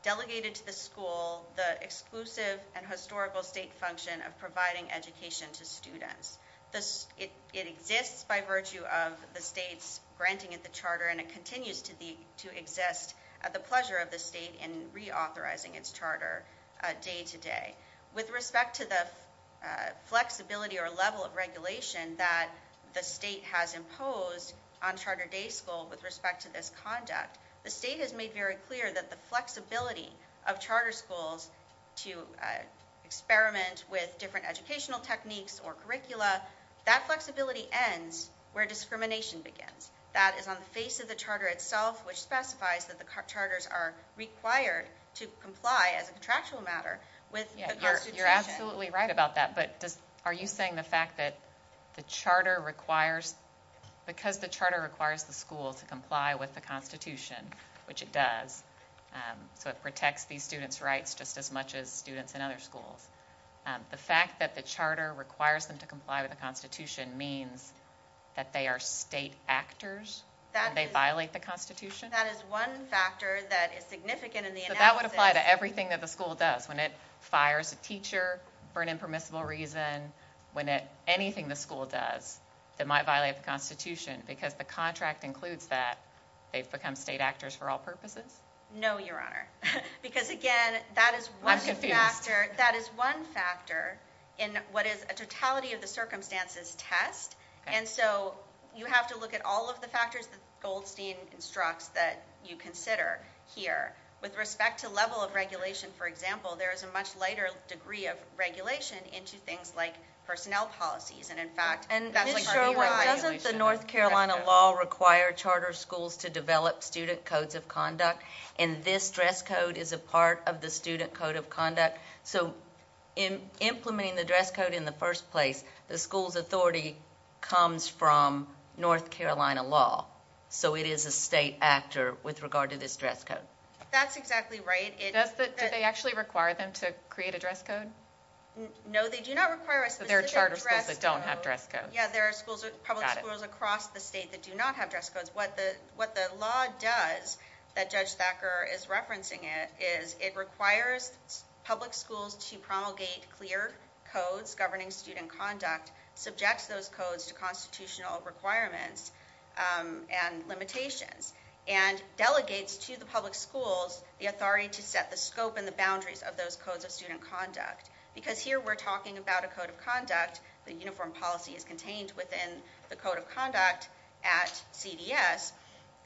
delegated to the school the exclusive and historical state function of providing education to students. It exists by virtue of the state's granting it the charter, and it continues to exist at the pleasure of the state in reauthorizing its charter day to day. With respect to the flexibility or level of regulation that the state has imposed on charter day schools with respect to this conduct, the state has made very clear that the flexibility of charter schools to experiment with different educational techniques or curricula, that flexibility ends where discrimination begins. That is on the face of the charter itself, which specifies that the charters are required to comply as a contractual matter with the Constitution. You're absolutely right about that, but are you saying the fact that the charter requires, because the charter requires the school to comply with the Constitution, which it does, so it protects these students' rights just as much as students in other schools, the fact that the charter requires them to comply with the Constitution means that they are state actors and they violate the Constitution? That is one factor that is significant in the analysis. So that would apply to everything that the school does, when it fires a teacher for an impermissible reason, anything the school does that might violate the Constitution because the contract includes that, they become state actors for all purposes? No, Your Honor, because again, that is one factor in what is a totality of the circumstances test, and so you have to look at all of the factors that Goldstein constructs that you consider here. With respect to level of regulation, for example, there is a much lighter degree of regulation into things like personnel policies. Ms. Sherwood, doesn't the North Carolina law require charter schools to develop student codes of conduct, and this dress code is a part of the student code of conduct? Implementing the dress code in the first place, the school's authority comes from North Carolina law, so it is a state actor with regard to this dress code. That's exactly right. Do they actually require them to create a dress code? No, they do not require it. There are charter schools that don't have dress codes. Yes, there are public schools across the state that do not have dress codes. What the law does, that Judge Thacker is referencing it, is it requires public schools to promulgate clear codes governing student conduct, subject those codes to constitutional requirements and limitations, and delegate to the public schools the authority to set the scope and the boundaries of those codes of student conduct. Because here we're talking about a code of conduct, the uniform policy is contained within the code of conduct at CDS,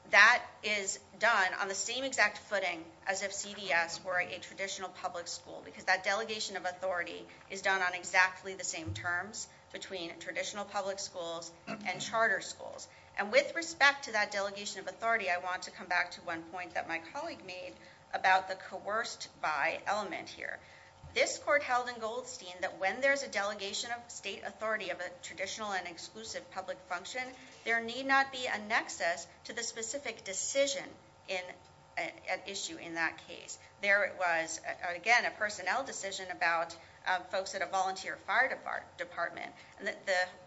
that is done on the same exact footing as if CDS were a traditional public school, because that delegation of authority is done on exactly the same terms between traditional public schools and charter schools. And with respect to that delegation of authority, I want to come back to one point that my colleague made about the coerced by element here. This court held in Goldstein that when there's a delegation of state authority of a traditional and exclusive public function, there need not be a nexus to the specific decision at issue in that case. There it was, again, a personnel decision about folks at a volunteer fire department. This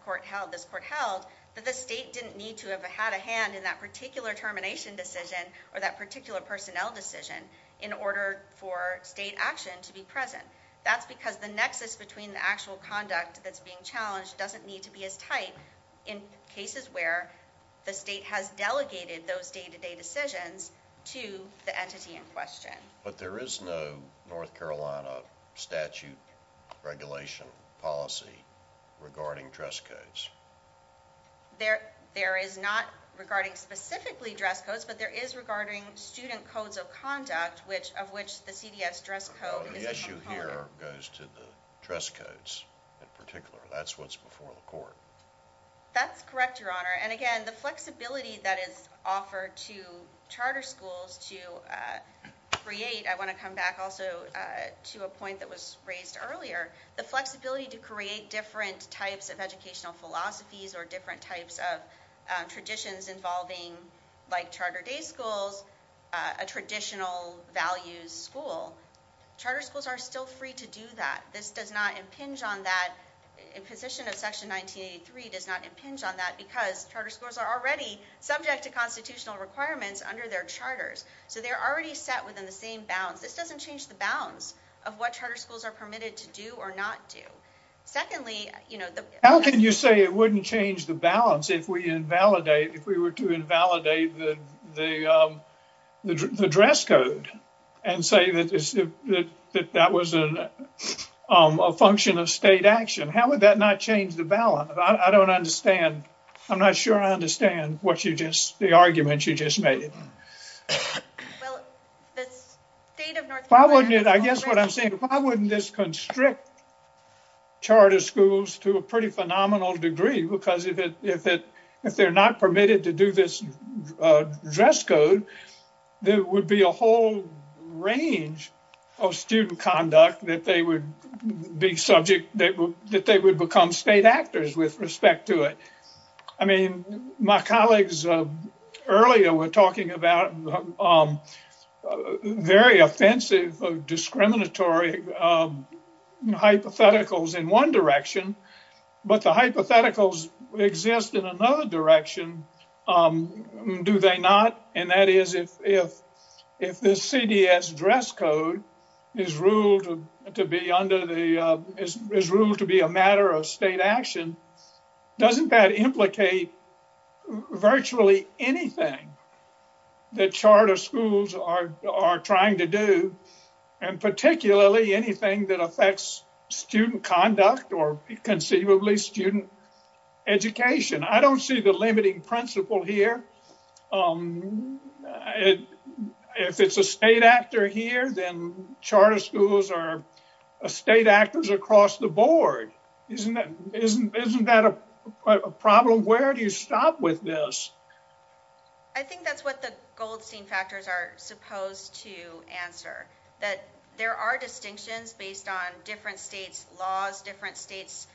court held that the state didn't need to have had a hand in that particular termination decision or that particular personnel decision in order for state action to be present. That's because the nexus between the actual conduct that's being challenged doesn't need to be as tight in cases where the state has delegated those day-to-day decisions to the entity in question. But there is no North Carolina statute regulation policy regarding dress codes. There is not regarding specifically dress codes, but there is regarding student codes of conduct, of which the CDS dress code is not required. The issue here goes to the dress codes in particular. That's what's before the court. That's correct, Your Honor. And again, the flexibility that is offered to charter schools to create, I want to come back also to a point that was raised earlier, the flexibility to create different types of educational philosophies or different types of traditions involving, like charter day schools, a traditional values school. Charter schools are still free to do that. This does not impinge on that. Imposition of Section 1983 does not impinge on that because charter schools are already subject to constitutional requirements under their charters. So they're already set within the same bounds. This doesn't change the bounds of what charter schools are permitted to do or not do. How can you say it wouldn't change the balance if we were to invalidate the dress code and say that that was a function of state action? How would that not change the balance? I don't understand. I'm not sure I understand the arguments you just made. Well, the state of North Carolina... If I wouldn't, I guess what I'm saying, if I wouldn't just constrict charter schools to a pretty phenomenal degree, because if they're not permitted to do this dress code, there would be a whole range of student conduct that they would be subject, that they would become state actors with respect to it. My colleagues earlier were talking about very offensive discriminatory hypotheticals in one direction, but the hypotheticals exist in another direction, do they not? That is, if the CBS dress code is ruled to be a matter of state action, doesn't that implicate virtually anything that charter schools are trying to do, and particularly anything that affects student conduct or conceivably student education? I don't see the limiting principle here. If it's a state actor here, then charter schools are state actors across the board. Isn't that a problem? Where do you stop with this? I think that's what the Goldstein factors are supposed to answer, that there are distinctions based on different states' laws, different states'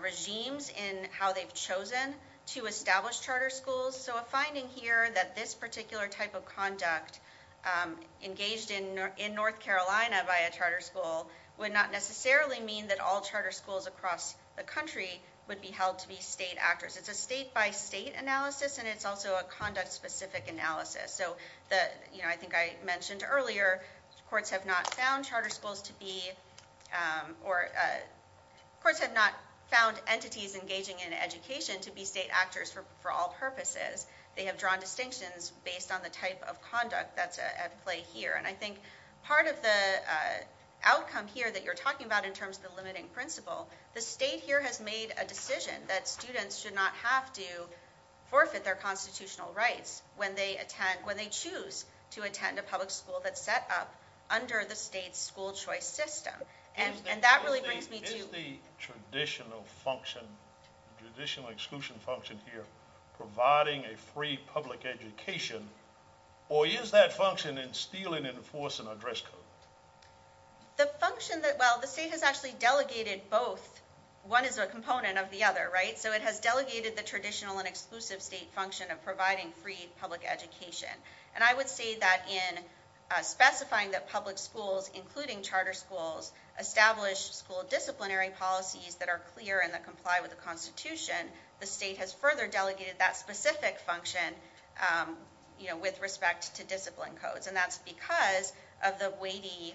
regimes in how they've chosen to establish charter schools. So a finding here that this particular type of conduct engaged in North Carolina by a charter school would not necessarily mean that all charter schools across the country would be held to be state actors. It's a state-by-state analysis, and it's also a conduct-specific analysis. I think I mentioned earlier, courts have not found entities engaging in education to be state actors for all purposes. They have drawn distinctions based on the type of conduct at play here. I think part of the outcome here that you're talking about in terms of the limiting principle, the state here has made a decision that students should not have to forfeit their constitutional rights when they choose to attend a public school that's set up under the state's school choice system. And that really brings me to... Is the traditional function, the traditional exclusion function here, providing a free public education, or is that function in stealing and enforcing address codes? The state has actually delegated both. One is a component of the other, right? So it has delegated the traditional and exclusive state function of providing free public education. And I would say that in specifying that public schools, including charter schools, establish school disciplinary policies that are clear and that comply with the Constitution, the state has further delegated that specific function with respect to discipline codes. And that's because of the weighty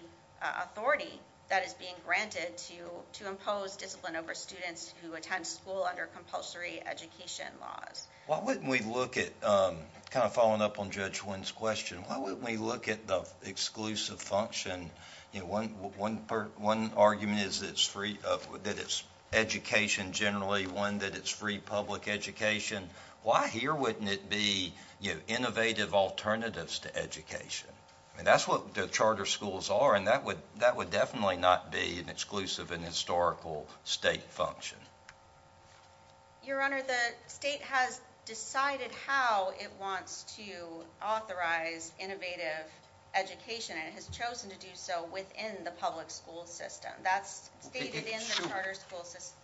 authority that is being granted to impose discipline over students who attend school under compulsory education laws. Why wouldn't we look at, kind of following up on Judge Wynn's question, why wouldn't we look at the exclusive function? One argument is that it's education generally, one that it's free public education. Why here wouldn't it be innovative alternatives to education? And that's what the charter schools are, and that would definitely not be an exclusive and historical state function. Your Honor, the state has decided how it wants to authorize innovative education and has chosen to do so within the public school system. That's stated in the charter school system.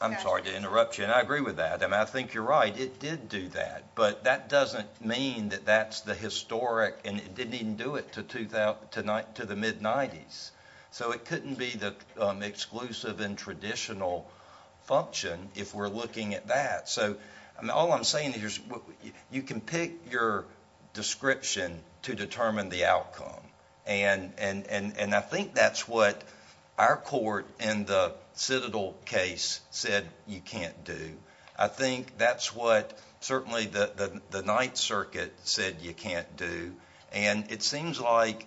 I'm sorry to interrupt you, and I agree with that. And I think you're right. It did do that, but that doesn't mean that that's the historic and it didn't even do it to the mid-'90s. So it couldn't be the exclusive and traditional function if we're looking at that. All I'm saying is you can pick your description to determine the outcome. And I think that's what our court in the Citadel case said you can't do. I think that's what certainly the Ninth Circuit said you can't do. And it seems like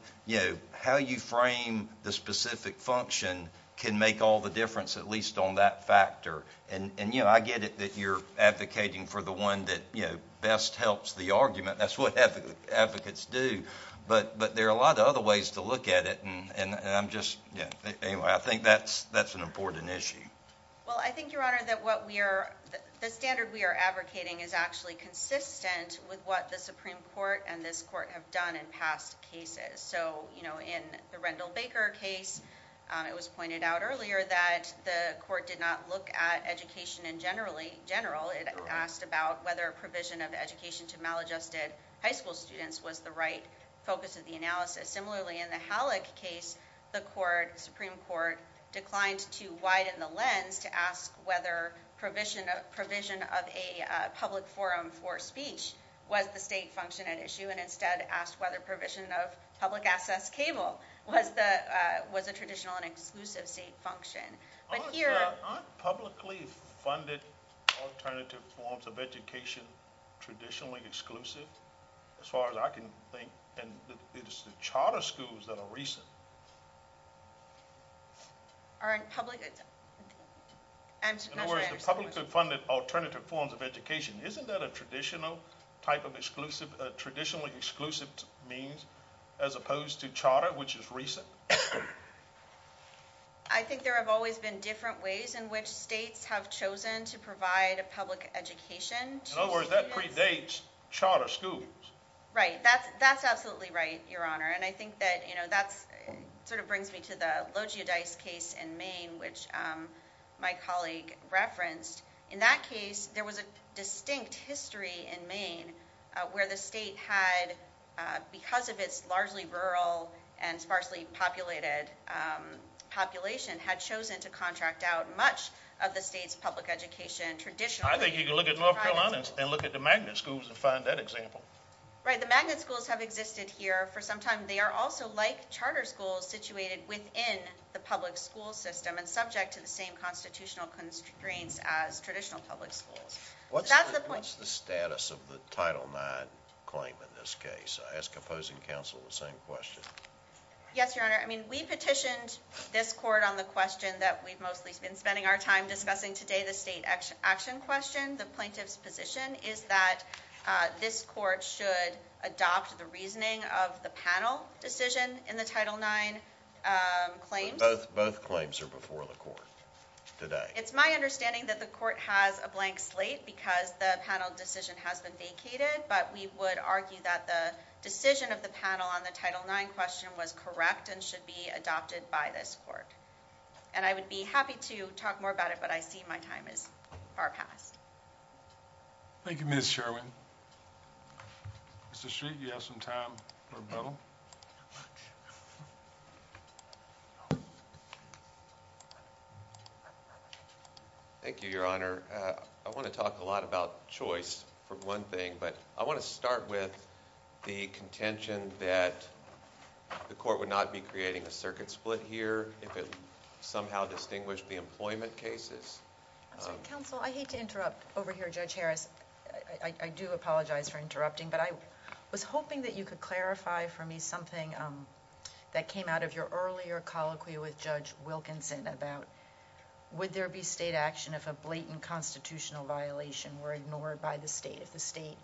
how you frame the specific function can make all the difference, at least on that factor. And, you know, I get it that you're advocating for the one that best helps the argument. That's what advocates do. But there are a lot of other ways to look at it, and I'm just, you know, I think that's an important issue. Well, I think, Your Honor, that the standard we are advocating is actually consistent with what the Supreme Court and this court have done in past cases. So, you know, in the Rendell Baker case, it was pointed out earlier that the court did not look at education in general. It asked about whether provision of education to maladjusted high school students was the right focus of the analysis. Similarly, in the Halleck case, the Supreme Court declined to widen the lens to ask whether provision of a public forum for speech was the state function at issue and instead asked whether provision of public access cable was the traditional and exclusive state function. But here... Aren't publicly funded alternative forms of education traditionally exclusive? As far as I can think. And it's the charter schools that are recent. Aren't publicly... In other words, the publicly funded alternative forms of education, isn't that a traditional type of exclusive, a traditionally exclusive means as opposed to charter, which is recent? I think there have always been different ways in which states have chosen to provide a public education. In other words, that predates charter schools. Right. That's absolutely right, Your Honor. And I think that, you know, that sort of brings me to the Logeodice case in Maine, which my colleague referenced. In that case, there was a distinct history in Maine where the state had, because of its largely rural and sparsely populated population, had chosen to contract out much of the state's public education traditionally. I think you can look at North Carolina and look at the magnet schools and find that example. Right. The magnet schools have existed here for some time. They are also like charter schools situated within the public school system and subject to the same constitutional constraints as traditional public schools. What's the status of the Title IX claim in this case? I ask opposing counsel the same question. Yes, Your Honor. I mean, we petitioned this court on the question that we've mostly been spending our time discussing today, the state action question. The plaintiff's position is that this court should adopt the reasoning of the panel decision in the Title IX claim. Both claims are before the court today. It's my understanding that the court has a blank slate because the panel decision has been vacated, but we would argue that the decision of the panel on the Title IX question was correct and should be adopted by this court. And I would be happy to talk more about it, but I see my time is far past. Thank you, Ms. Sherwin. Thank you, Your Honor. I want to talk a lot about choice for one thing, but I want to start with the contention that the court would not be creating a circuit split here if it somehow distinguished the employment cases. Counsel, I hate to interrupt over here, Judge Harris. I do apologize for interrupting, but I was hoping that you could clarify for me something that came out of your earlier colloquy with Judge Wilkinson about, would there be state action if a blatant constitutional violation were ignored by the state, if the state,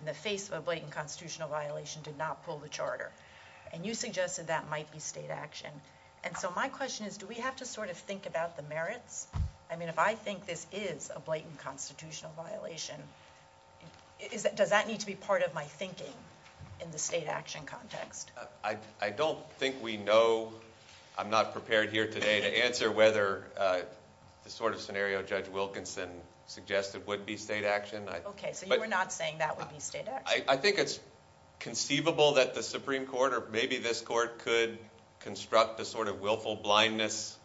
in the face of a blatant constitutional violation, did not pull the charter? And you suggested that might be state action. And so my question is, do we have to sort of think about the merits? I mean, if I think this is a blatant constitutional violation, does that need to be part of my thinking in the state action context? I don't think we know. I'm not prepared here today to answer whether the sort of scenario Judge Wilkinson suggested would be state action. Okay, so you were not saying that would be state action? I think it's conceivable that the Supreme Court or maybe this court could construct the sort of willful blindness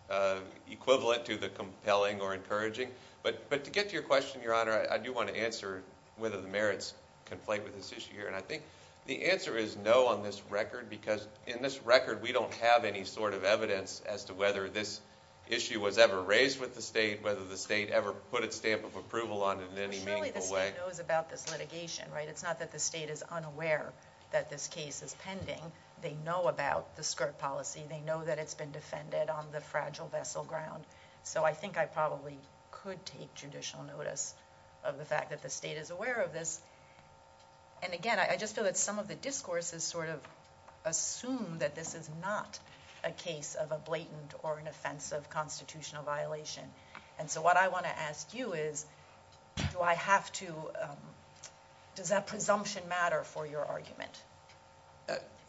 equivalent to the compelling or encouraging. But to get to your question, Your Honor, I do want to answer whether the merits conflate with this issue here. And I think the answer is no on this record, because in this record, we don't have any sort of evidence as to whether this issue was ever raised with the state, whether the state ever put a stamp of approval on it in any meaningful way. It's really the state knows about this litigation, right? It's not that the state is unaware that this case is pending. They know about the skirt policy. They know that it's been defended on the fragile vessel ground. So I think I probably could take judicial notice of the fact that the state is aware of this. And again, I just feel that some of the discourses sort of assume that this is not a case of a blatant or an offensive constitutional violation. And so what I want to ask you is, does that presumption matter for your argument?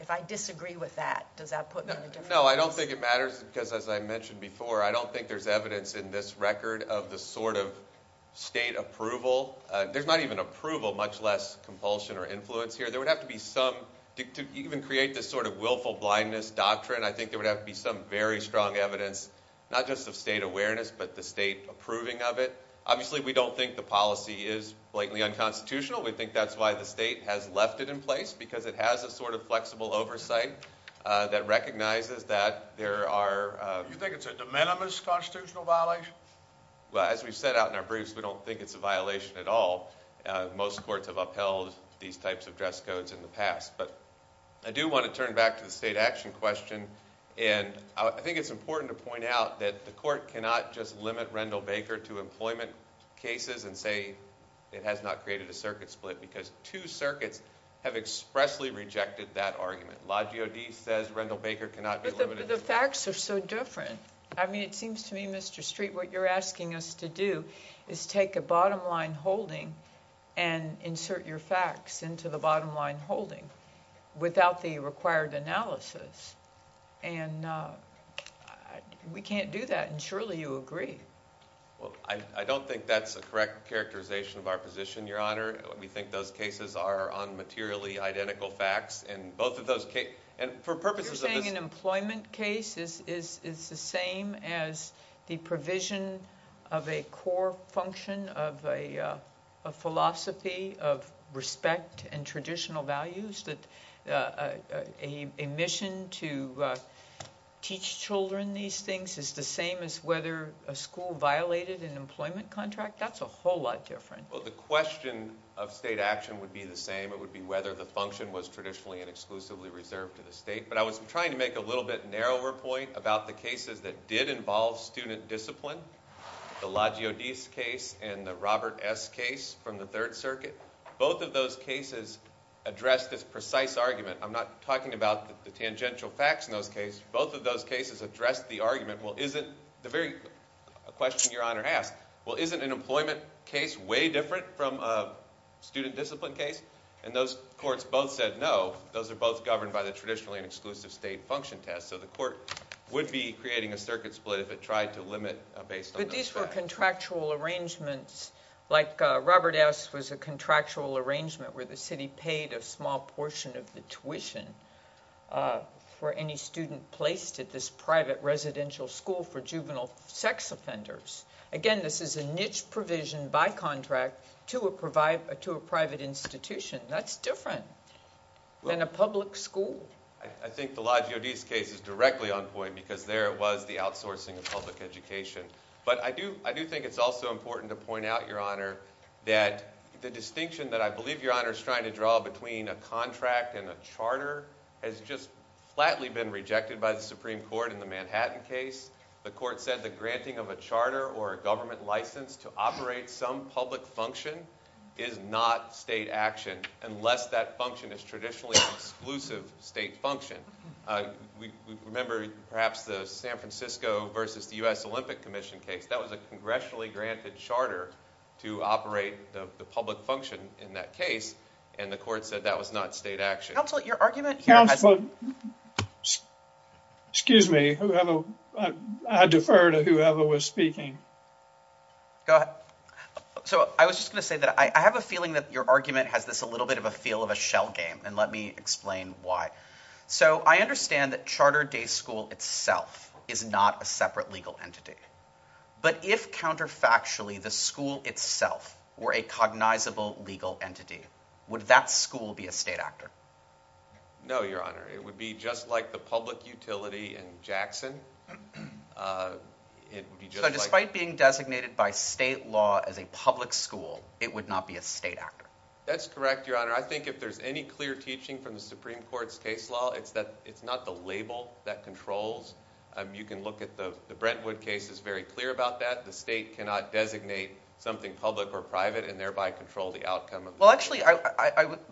If I disagree with that, does that put me in a different position? I guess no, I don't think it matters, because as I mentioned before, I don't think there's evidence in this record of the sort of state approval. There's not even approval, much less compulsion or influence here. There would have to be some, to even create this sort of willful blindness doctrine, I think there would have to be some very strong evidence, not just of state awareness, but the state approving of it. Obviously, we don't think the policy is blatantly unconstitutional. We think that's why the state has left it in place, because it has a sort of flexible oversight that recognizes that there are- You think it's a de minimis constitutional violation? Well, as we've said out in our briefs, we don't think it's a violation at all. Most courts have upheld these types of dress codes in the past. But I do want to turn back to the state action question, and I think it's important to point out that the court cannot just limit Rendell Baker to employment cases and say it has not created a circuit split, because two circuits have expressly rejected that argument. Lodge O'Dee says Rendell Baker cannot be limited- But the facts are so different. I mean, it seems to me, Mr. Street, what you're asking us to do is take a bottom line holding and insert your facts into the bottom line holding without the required analysis, and we can't do that, and surely you agree. Well, I don't think that's the correct characterization of our position, Your Honor. We think those cases are on materially identical facts, and both of those cases- You're saying an employment case is the same as the provision of a core function, of a philosophy of respect and traditional values, that a mission to teach children these things is the same as whether a school violated an employment contract? That's a whole lot different. Well, the question of state action would be the same. It would be whether the function was traditionally and exclusively reserved to the state. But I was trying to make a little bit narrower point about the cases that did involve student discipline, the Lodge O'Dee's case and the Robert S. case from the Third Circuit. Both of those cases addressed this precise argument. I'm not talking about the tangential facts in those cases. Both of those cases addressed the argument, well, isn't the very question Your Honor asked, well, isn't an employment case way different from a student discipline case? And those courts both said no. Those are both governed by the traditionally and exclusively state function test, so the court would be creating a circuit split if it tried to limit based on that fact. But these were contractual arrangements like Robert S. was a contractual arrangement where the city paid a small portion of the tuition for any student placed at this private residential school for juvenile sex offenders. Again, this is a niche provision by contract to a private institution. That's different than a public school. I think the Lodge O'Dee's case is directly on point because there was the outsourcing of public education. But I do think it's also important to point out, Your Honor, that the distinction that I believe Your Honor is trying to draw between a contract and a charter has just flatly been rejected by the Supreme Court in the Manhattan case. The court said the granting of a charter or a government license to operate some public function is not state action unless that function is traditionally an exclusive state function. Remember perhaps the San Francisco versus the U.S. Olympic Commission case. That was a congressionally granted charter to operate the public function in that case, and the court said that was not state action. Counselor, your argument... Counselor, excuse me. I defer to whoever was speaking. Go ahead. So I was just going to say that I have a feeling that your argument has this a little bit of a feel of a shell game, and let me explain why. So I understand that Charter Day School itself is not a separate legal entity. But if counterfactually the school itself were a cognizable legal entity, would that school be a state actor? No, Your Honor. It would be just like the public utility in Jackson. But despite being designated by state law as a public school, it would not be a state actor. That's correct, Your Honor. Your Honor, I think if there's any clear teaching from the Supreme Court's case law, it's not the label that controls. You can look at the Brentwood case. It's very clear about that. The state cannot designate something public or private and thereby control the outcome. Well, actually,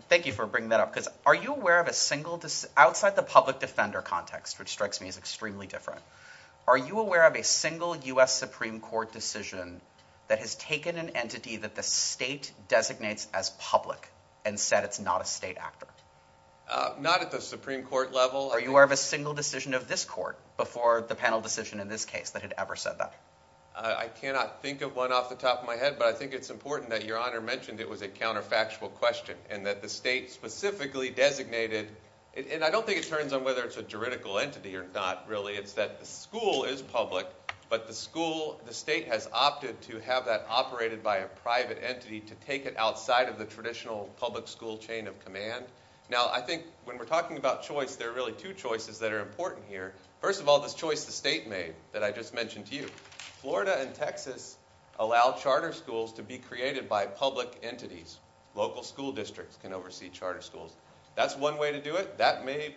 thank you for bringing that up. Because are you aware of a single, outside the public defender context, which strikes me as extremely different, are you aware of a single U.S. Supreme Court decision that has taken an entity that the state designates as public and said it's not a state actor? Not at the Supreme Court level. Are you aware of a single decision of this court before the panel decision in this case that had ever said that? I cannot think of one off the top of my head, but I think it's important that Your Honor mentioned it was a counterfactual question and that the state specifically designated – and I don't think it turns on whether it's a juridical entity or not, really. It's that the school is public, but the state has opted to have that operated by a private entity to take it outside of the traditional public school chain of command. Now, I think when we're talking about choice, there are really two choices that are important here. First of all, this choice the state made that I just mentioned to you. Florida and Texas allow charter schools to be created by public entities. Local school districts can oversee charter schools. That's one way to do it. That may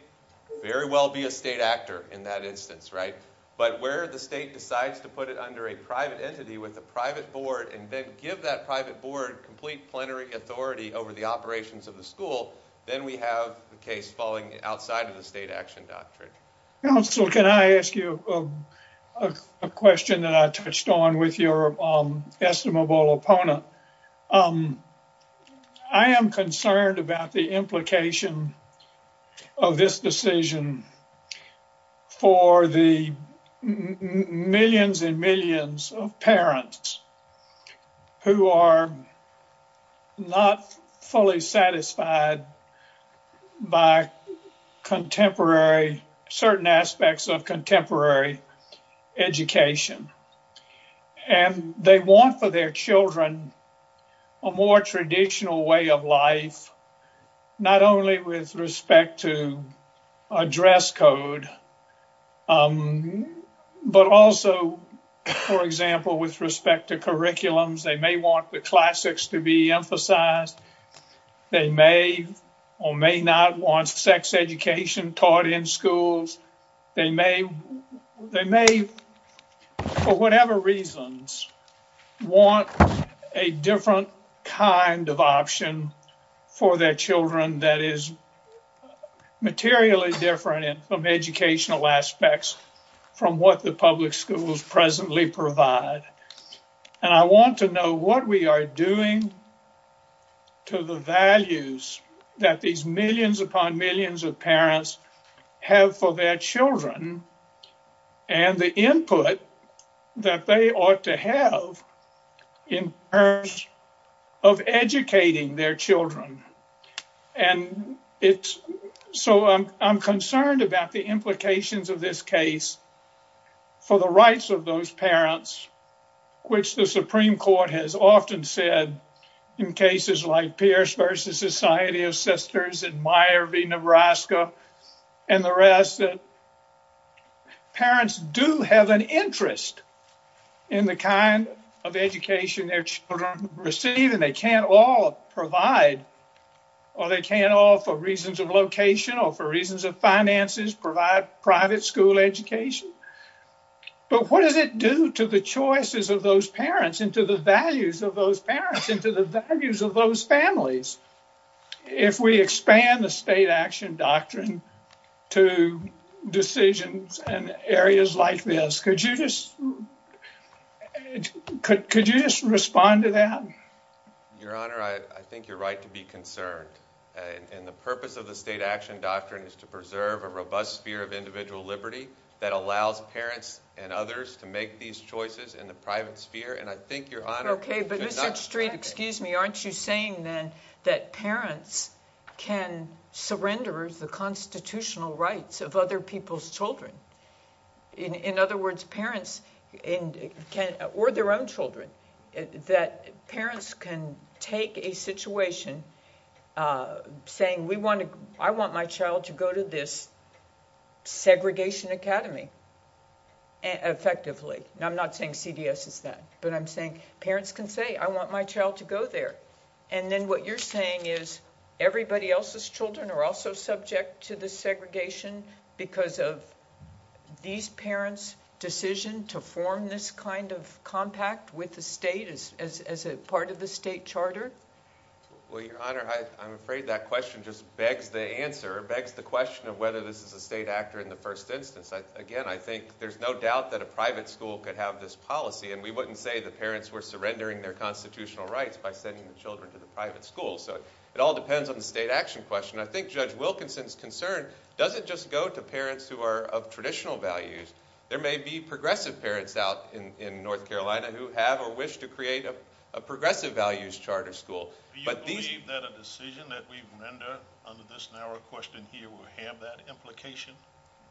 very well be a state actor in that instance, right? But where the state decides to put it under a private entity with a private board and then give that private board complete plenary authority over the operations of the school, then we have the case falling outside of the state action doctrine. Counsel, can I ask you a question that I touched on with your estimable opponent? Sure. I am concerned about the implication of this decision for the millions and millions of parents who are not fully satisfied by certain aspects of contemporary education. And they want for their children a more traditional way of life, not only with respect to a dress code, but also, for example, with respect to curriculums. They may want the classics to be emphasized. They may or may not want sex education taught in schools. They may, for whatever reasons, want a different kind of option for their children that is materially different in some educational aspects from what the public schools presently provide. And I want to know what we are doing to the values that these millions upon millions of parents have for their children and the input that they ought to have in terms of educating their children. And so I'm concerned about the implications of this case for the rights of those parents, which the Supreme Court has often said in cases like Pierce v. Society of Sisters and Meyer v. Nebraska and the rest, that parents do have an interest in the kind of education their children receive and they can't all provide, or they can't all, for reasons of location or for reasons of finances, provide private school education. But what does it do to the choices of those parents and to the values of those parents and to the values of those families? If we expand the state action doctrine to decisions and areas like this, could you just respond to that? Your Honor, I think you're right to be concerned. And the purpose of the state action doctrine is to preserve a robust sphere of individual liberty that allows parents and others to make these choices in the private sphere. Okay, but Mr. Street, excuse me, aren't you saying that parents can surrender the constitutional rights of other people's children? In other words, parents or their own children, that parents can take a situation saying, I want my child to go to this segregation academy, effectively. And I'm not saying CDS is that, but I'm saying parents can say, I want my child to go there. And then what you're saying is everybody else's children are also subject to the segregation because of these parents' decision to form this kind of compact with the state as a part of the state charter? Well, Your Honor, I'm afraid that question just begs the answer, begs the question of whether this is a state act or in the first instance. Again, I think there's no doubt that a private school could have this policy, and we wouldn't say the parents were surrendering their constitutional rights by sending the children to the private school. So it all depends on the state action question. I think Judge Wilkinson's concern doesn't just go to parents who are of traditional values. There may be progressive parents out in North Carolina who have or wish to create a progressive values charter school. Do you believe that a decision that we render under this narrow question here would have that implication?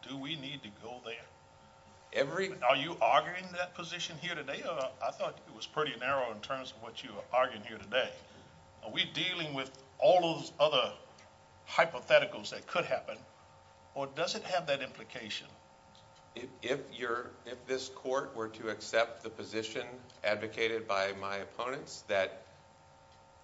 Do we need to go there? Are you arguing that position here today? I thought it was pretty narrow in terms of what you were arguing here today. Are we dealing with all those other hypotheticals that could happen, or does it have that implication? If this court were to accept the position advocated by my opponents that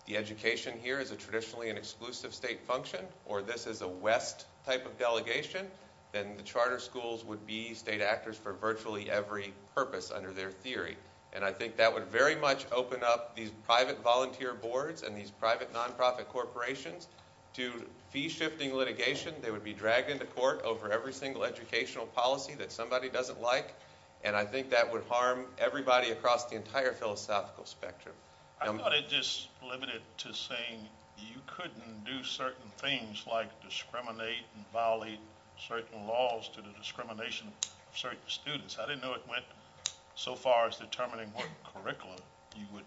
the education here is traditionally an exclusive state function or this is a West type of delegation, then the charter schools would be state actors for virtually every purpose under their theory. And I think that would very much open up these private volunteer boards and these private nonprofit corporations to fee-shifting litigation. They would be dragged into court over every single educational policy that somebody doesn't like, and I think that would harm everybody across the entire philosophical spectrum. I thought it just limited to saying you couldn't do certain things like discriminate and violate certain laws to the discrimination of certain students. I didn't know it went so far as determining what curriculum you would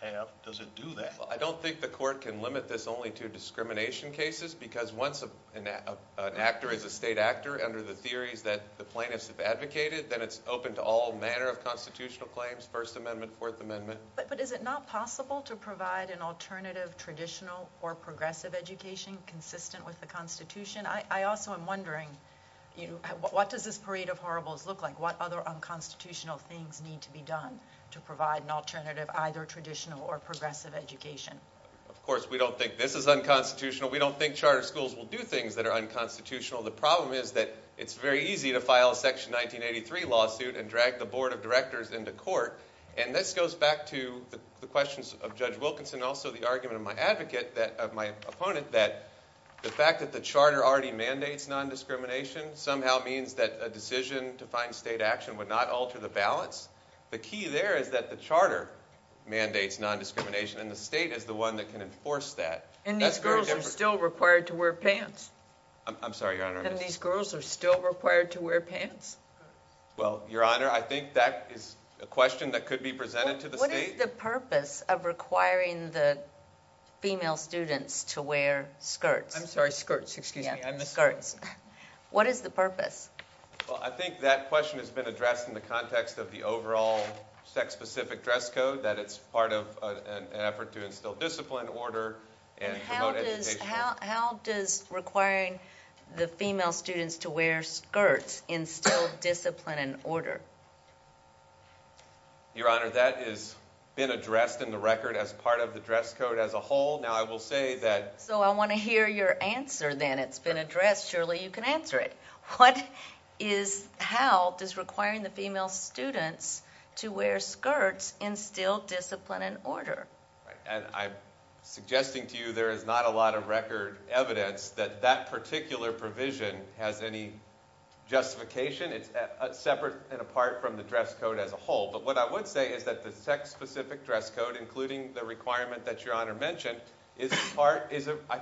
have. Does it do that? I don't think the court can limit this only to discrimination cases because once an actor is a state actor under the theories that the plaintiffs have advocated, then it's open to all manner of constitutional claims, First Amendment, Fourth Amendment. But is it not possible to provide an alternative traditional or progressive education consistent with the Constitution? I also am wondering, what does this parade of horribles look like? What other unconstitutional things need to be done to provide an alternative either traditional or progressive education? Of course, we don't think this is unconstitutional. We don't think charter schools will do things that are unconstitutional. The problem is that it's very easy to file a Section 1983 lawsuit and drag the Board of Directors into court. And this goes back to the questions of Judge Wilkinson and also the argument of my advocate, of my opponent, that the fact that the charter already mandates nondiscrimination somehow means that a decision to find state action would not alter the balance. The key there is that the charter mandates nondiscrimination and the state is the one that can enforce that. And these girls are still required to wear pants? I'm sorry, Your Honor. And these girls are still required to wear pants? Well, Your Honor, I think that is a question that could be presented to the state. What is the purpose of requiring the female students to wear skirts? I'm sorry, skirts, excuse me. Skirts. What is the purpose? Well, I think that question has been addressed in the context of the overall sex-specific dress code, that it's part of an effort to instill discipline, order, and promote education. How does requiring the female students to wear skirts instill discipline and order? Your Honor, that has been addressed in the record as part of the dress code as a whole. Now, I will say that... So I want to hear your answer then. It's been addressed. Surely you can answer it. How does requiring the female students to wear skirts instill discipline and order? I'm suggesting to you there is not a lot of record evidence that that particular provision has any justification. It's separate and apart from the dress code as a whole. But what I would say is that the sex-specific dress code, including the requirement that Your Honor mentioned, I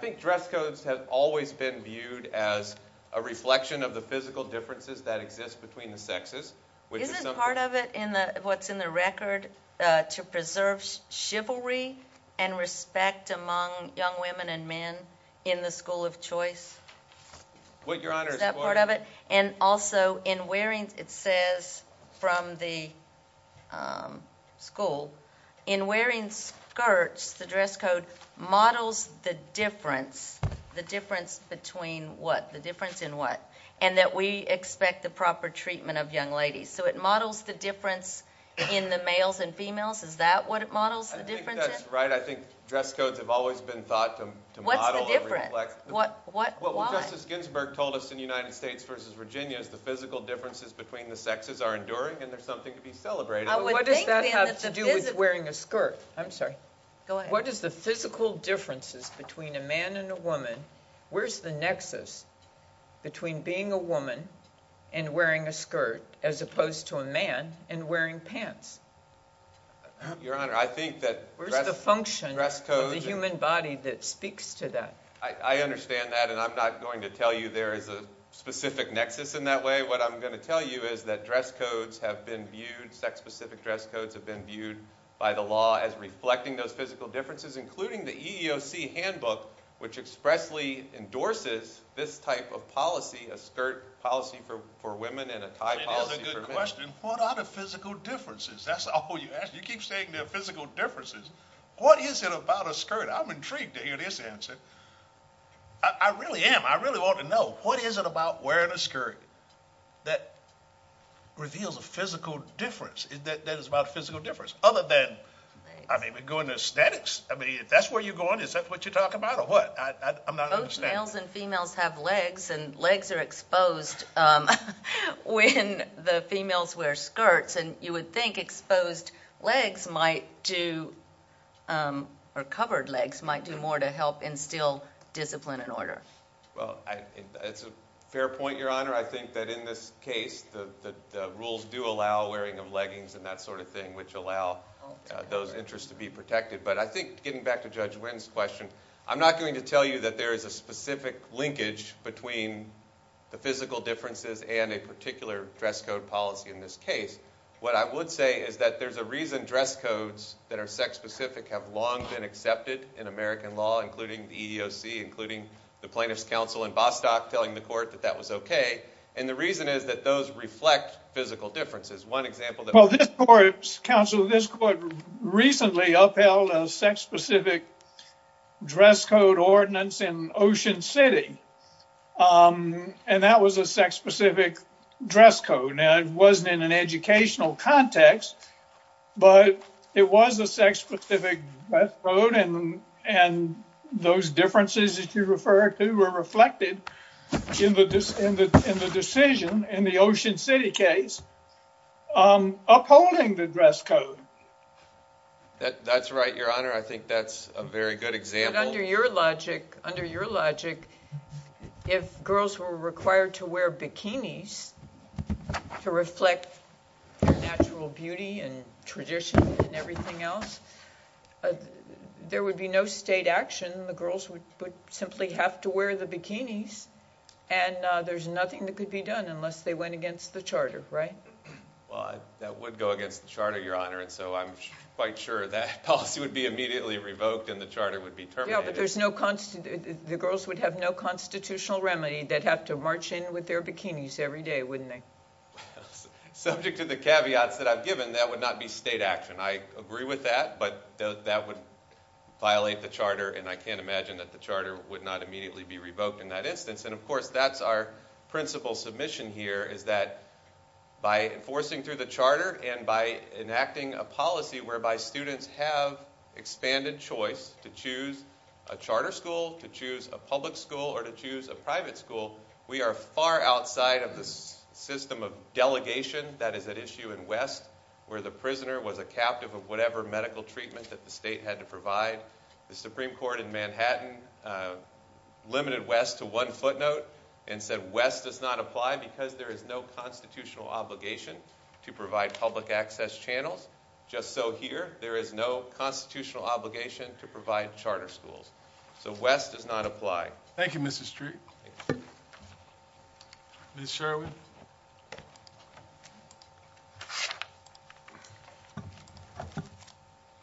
think dress codes have always been viewed as a reflection of the physical differences that exist between the sexes. Isn't part of it in what's in the record to preserve chivalry and respect among young women and men in the school of choice? Your Honor... Isn't that part of it? And also in wearing, it says from the school, in wearing skirts the dress code models the difference, the difference between what, the difference in what, and that we expect the proper treatment of young ladies. So it models the difference in the males and females. Is that what it models, the difference? I think that's right. I think dress codes have always been thought to model... What's the difference? What, why? Well, what Justice Ginsburg told us in the United States versus Virginia is the physical differences between the sexes are enduring and there's something to be celebrated. What does that have to do with wearing a skirt? I'm sorry. Go ahead. What is the physical differences between a man and a woman? Where's the nexus between being a woman and wearing a skirt as opposed to a man and wearing pants? Your Honor, I think that... Where's the function of the human body that speaks to that? I understand that, and I'm not going to tell you there is a specific nexus in that way. What I'm going to tell you is that dress codes have been viewed, sex-specific dress codes have been viewed by the law as reflecting those physical differences, including the EEOC handbook, which expressly endorses this type of policy, a skirt policy for women and a tie policy for men. That's a good question. What are the physical differences? That's all you ask. You keep saying there are physical differences. What is it about a skirt? I'm intrigued to hear this answer. I really am. I really want to know. What is it about wearing a skirt that reveals a physical difference, that it's about a physical difference, other than going to aesthetics? If that's where you're going, is that what you're talking about or what? I'm not understanding. Most males and females have legs, and legs are exposed when the females wear skirts, and you would think exposed legs might do, or covered legs might do more to help instill discipline and order. It's a fair point, Your Honor. I think that in this case, the rules do allow wearing of leggings and that sort of thing, which allow those interests to be protected. But I think, getting back to Judge Wynn's question, I'm not going to tell you that there is a specific linkage between the physical differences and a particular dress code policy in this case. What I would say is that there's a reason dress codes that are sex specific have long been accepted in American law, including the EEOC, including the Plaintiffs' Counsel in Bostock, telling the court that that was okay, and the reason is that those reflect physical differences. Well, this court, Counsel, this court recently upheld a sex-specific dress code ordinance in Ocean City, and that was a sex-specific dress code. Now, it wasn't in an educational context, but it was a sex-specific dress code, and those differences, if you prefer, they were reflected in the decision in the Ocean City case upholding the dress code. That's right, Your Honor. I think that's a very good example. But under your logic, if girls were required to wear bikinis to reflect their natural beauty and traditions and everything else, there would be no state action. Then the girls would simply have to wear the bikinis, and there's nothing that could be done unless they went against the Charter, right? Well, that would go against the Charter, Your Honor, and so I'm quite sure that policy would be immediately revoked and the Charter would be terminated. Yeah, but the girls would have no constitutional remedy. They'd have to march in with their bikinis every day, wouldn't they? Subject to the caveats that I've given, that would not be state action. I agree with that, but that would violate the Charter and I can't imagine that the Charter would not immediately be revoked in that instance. And, of course, that's our principal submission here is that by enforcing through the Charter and by enacting a policy whereby students have expanded choice to choose a charter school, to choose a public school, or to choose a private school, we are far outside of the system of delegation that is at issue in West where the prisoner was a captive of whatever medical treatment that the state had to provide. The Supreme Court in Manhattan limited West to one footnote and said, West does not apply because there is no constitutional obligation to provide public access channels. Just so here there is no constitutional obligation to provide charter schools. So West does not apply. Thank you, Mr. Street. Ms. Sherwin?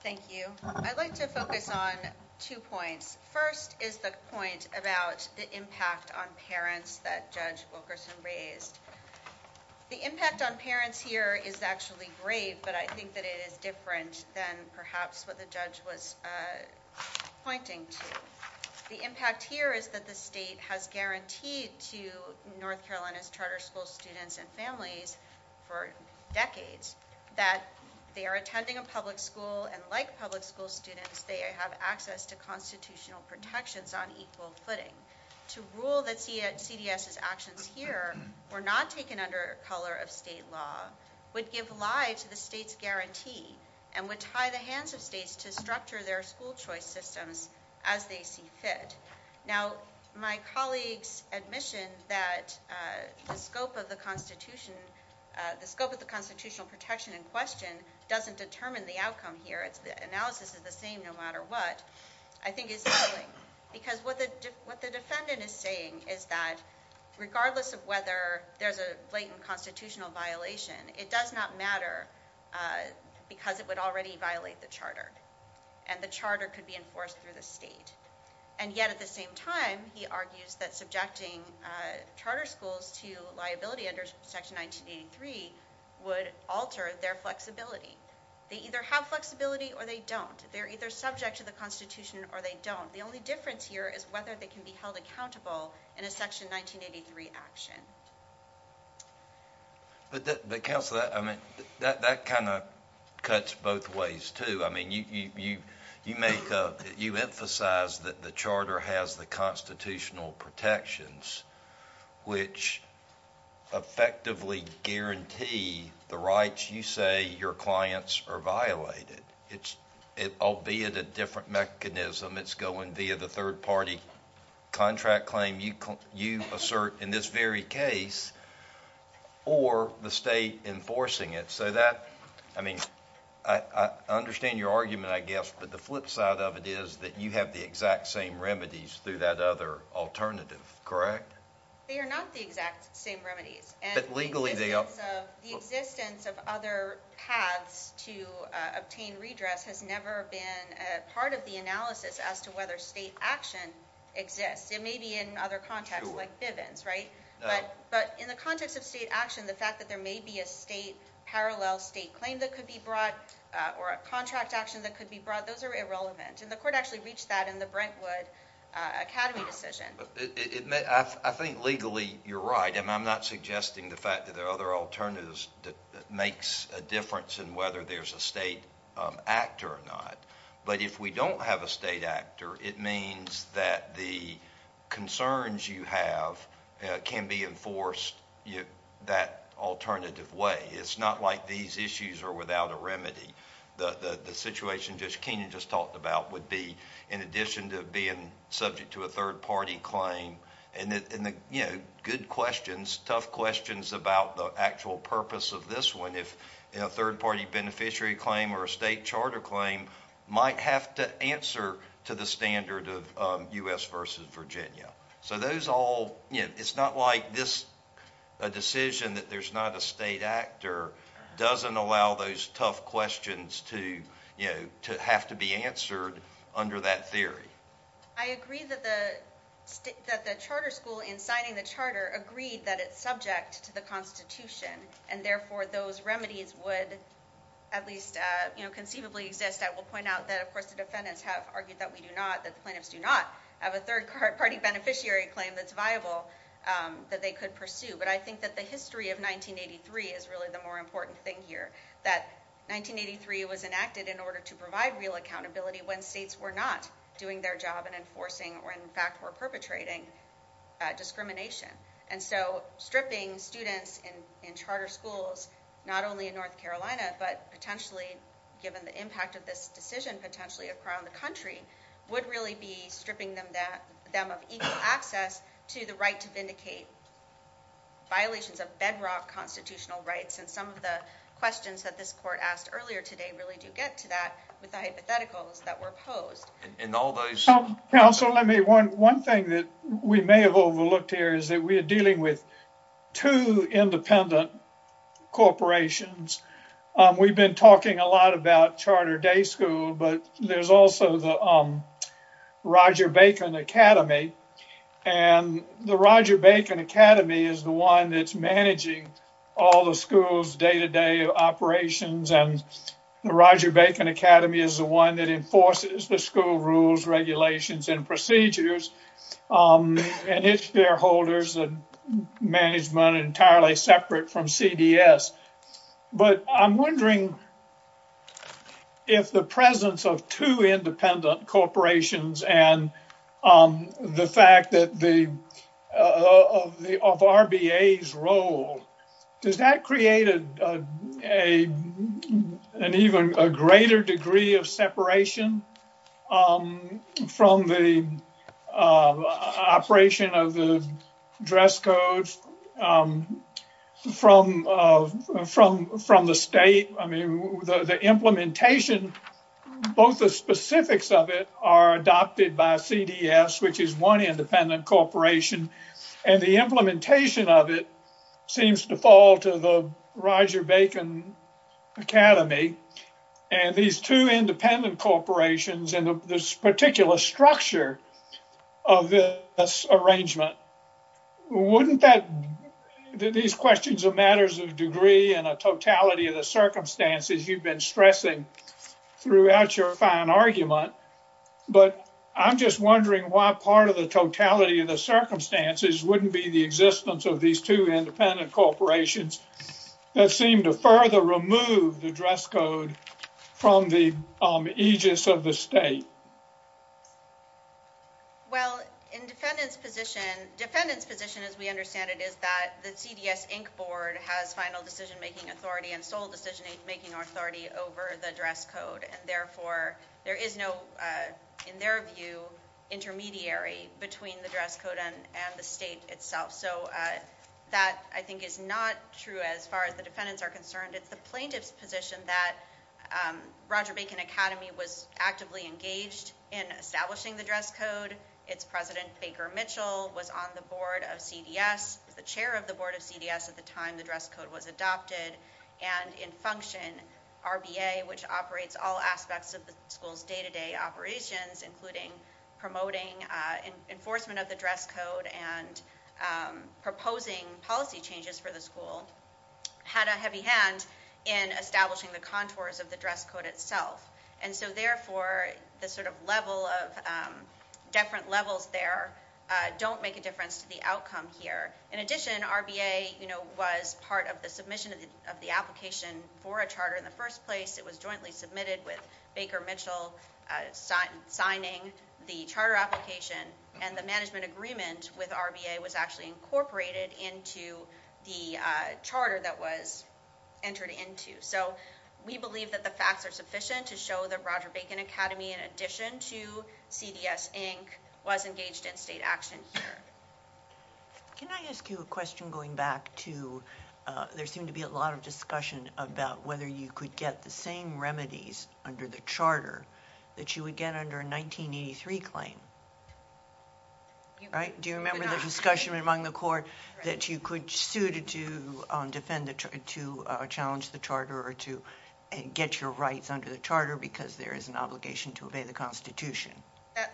Thank you. I'd like to focus on two points. First is the point about the impact on parents that Judge Wilkerson raised. The impact on parents here is actually great, but I think that it is different than perhaps what the judge was pointing to. The impact here is that the state has guaranteed to North Carolina charter school students and families for decades that they are attending a public school, and like public school students, they have access to constitutional protections on equal footing. To rule that CDS's actions here were not taken under color of state law would give lie to the state's guarantee and would tie the hands of states to structure their school choice systems as they see fit. Now, my colleague's admission that the scope of the constitutional protection in question doesn't determine the outcome here. The analysis is the same no matter what. I think it's failing because what the defendant is saying is that regardless of whether there's a blatant constitutional violation, it does not matter because it would already violate the charter, and the charter could be enforced through the state. And yet at the same time, he argues that subjecting charter schools to liability under Section 1983 would alter their flexibility. They either have flexibility or they don't. They're either subject to the Constitution or they don't. The only difference here is whether they can be held accountable in a Section 1983 action. But Counselor, that kind of cuts both ways too. I mean, you emphasize that the charter has the constitutional protections, which effectively guarantee the rights you say your clients are violated, albeit a different mechanism. It's going via the third party contract claim you assert in this very case or the state enforcing it. So that, I mean, I understand your argument, I guess, but the flip side of it is that you have the exact same remedies through that other alternative, correct? They are not the exact same remedies. But legally they are. The existence of other paths to obtain redress has never been part of the analysis as to whether state action exists. It may be in other contexts like Diven's, right? But in the context of state action, the fact that there may be a state parallel state claim that could be brought or a contract action that could be brought, those are irrelevant. And the court actually reached that in the Brentwood Academy decision. I think legally you're right, and I'm not suggesting the fact that there are other alternatives that makes a difference in whether there's a state act or not. But if we don't have a state act, it means that the concerns you have can be enforced that alternative way. It's not like these issues are without a remedy. The situation that Kenan just talked about would be in addition to being subject to a third-party claim, and, you know, good questions, tough questions about the actual purpose of this one. If a third-party beneficiary claim or a state charter claim might have to meet the standard of U.S. versus Virginia. So those all, you know, it's not like this decision that there's not a state act or doesn't allow those tough questions to, you know, to have to be answered under that theory. I agree that the charter school, in signing the charter, agreed that it's subject to the Constitution, and therefore those remedies would at least, you know, conceivably exist. I will point out that, of course, the defendants have argued that we do not, that plaintiffs do not have a third-party beneficiary claim that's viable that they could pursue. But I think that the history of 1983 is really the more important thing here, that 1983 was enacted in order to provide real accountability when states were not doing their job in enforcing or, in fact, were perpetrating discrimination. And so stripping students in charter schools, not only in North Carolina, but potentially given the impact of this decision potentially across the country, would really be stripping them of equal access to the right to vindicate violations of bedrock constitutional rights. And some of the questions that this court asked earlier today really do get to that with the hypotheticals that were posed. And all those – Counsel, let me – one thing that we may have overlooked here is that we are dealing with independent corporations. We've been talking a lot about Charter Day School, but there's also the Roger Bacon Academy. And the Roger Bacon Academy is the one that's managing all the schools' day-to-day operations, and the Roger Bacon Academy is the one that enforces the school rules, regulations, and procedures. And its shareholders and management are entirely separate from CDS. But I'm wondering if the presence of two independent corporations and the fact that the – of RBA's role, does that create an even greater degree of separation of the dress codes from the state? I mean, the implementation, both the specifics of it are adopted by CDS, which is one independent corporation. And the implementation of it seems to fall to the Roger Bacon Academy. And these two independent corporations and this particular structure of this arrangement, wouldn't that – these questions of matters of degree and a totality of the circumstances you've been stressing throughout your fine argument, but I'm just wondering why part of the totality of the circumstances wouldn't be the existence of these two independent corporations that seem to further remove the dress code from the aegis of the state? Well, in defendant's position – defendant's position, as we understand it, is that the CDS Inc. Board has final decision-making authority and sole decision-making authority over the dress code. And therefore, there is no, in their view, intermediary between the dress code and the state itself. So that, I think, is not true as far as the defendants are concerned. It's the plaintiff's position that Roger Bacon Academy was actively engaged in establishing the dress code. Its president, Baker Mitchell, was on the board of CDS, was the chair of the board of CDS at the time the dress code was adopted. And in function, RBA, which operates all aspects of the school's day-to-day operations, including promoting enforcement of the dress code and proposing policy changes for the school, had a heavy hand in establishing the contours of the dress code itself. And so therefore, the sort of level of – different levels there don't make a difference to the outcome here. In addition, RBA, you know, was part of the submission of the application for a charter in the first place. It was jointly submitted with Baker Mitchell signing the charter application and the management agreement with RBA was actually incorporated into the charter that was entered into. So we believe that the facts are sufficient to show that Roger Bacon Academy, in addition to CDS, Inc., was engaged in state action there. Can I ask you a question going back to – there seemed to be a lot of discussion about whether you could get the same remedies under the charter that you would get under a 1983 claim, right? Do you remember the discussion among the court that you could sue to defend – to challenge the charter or to get your rights under the charter because there is an obligation to obey the Constitution?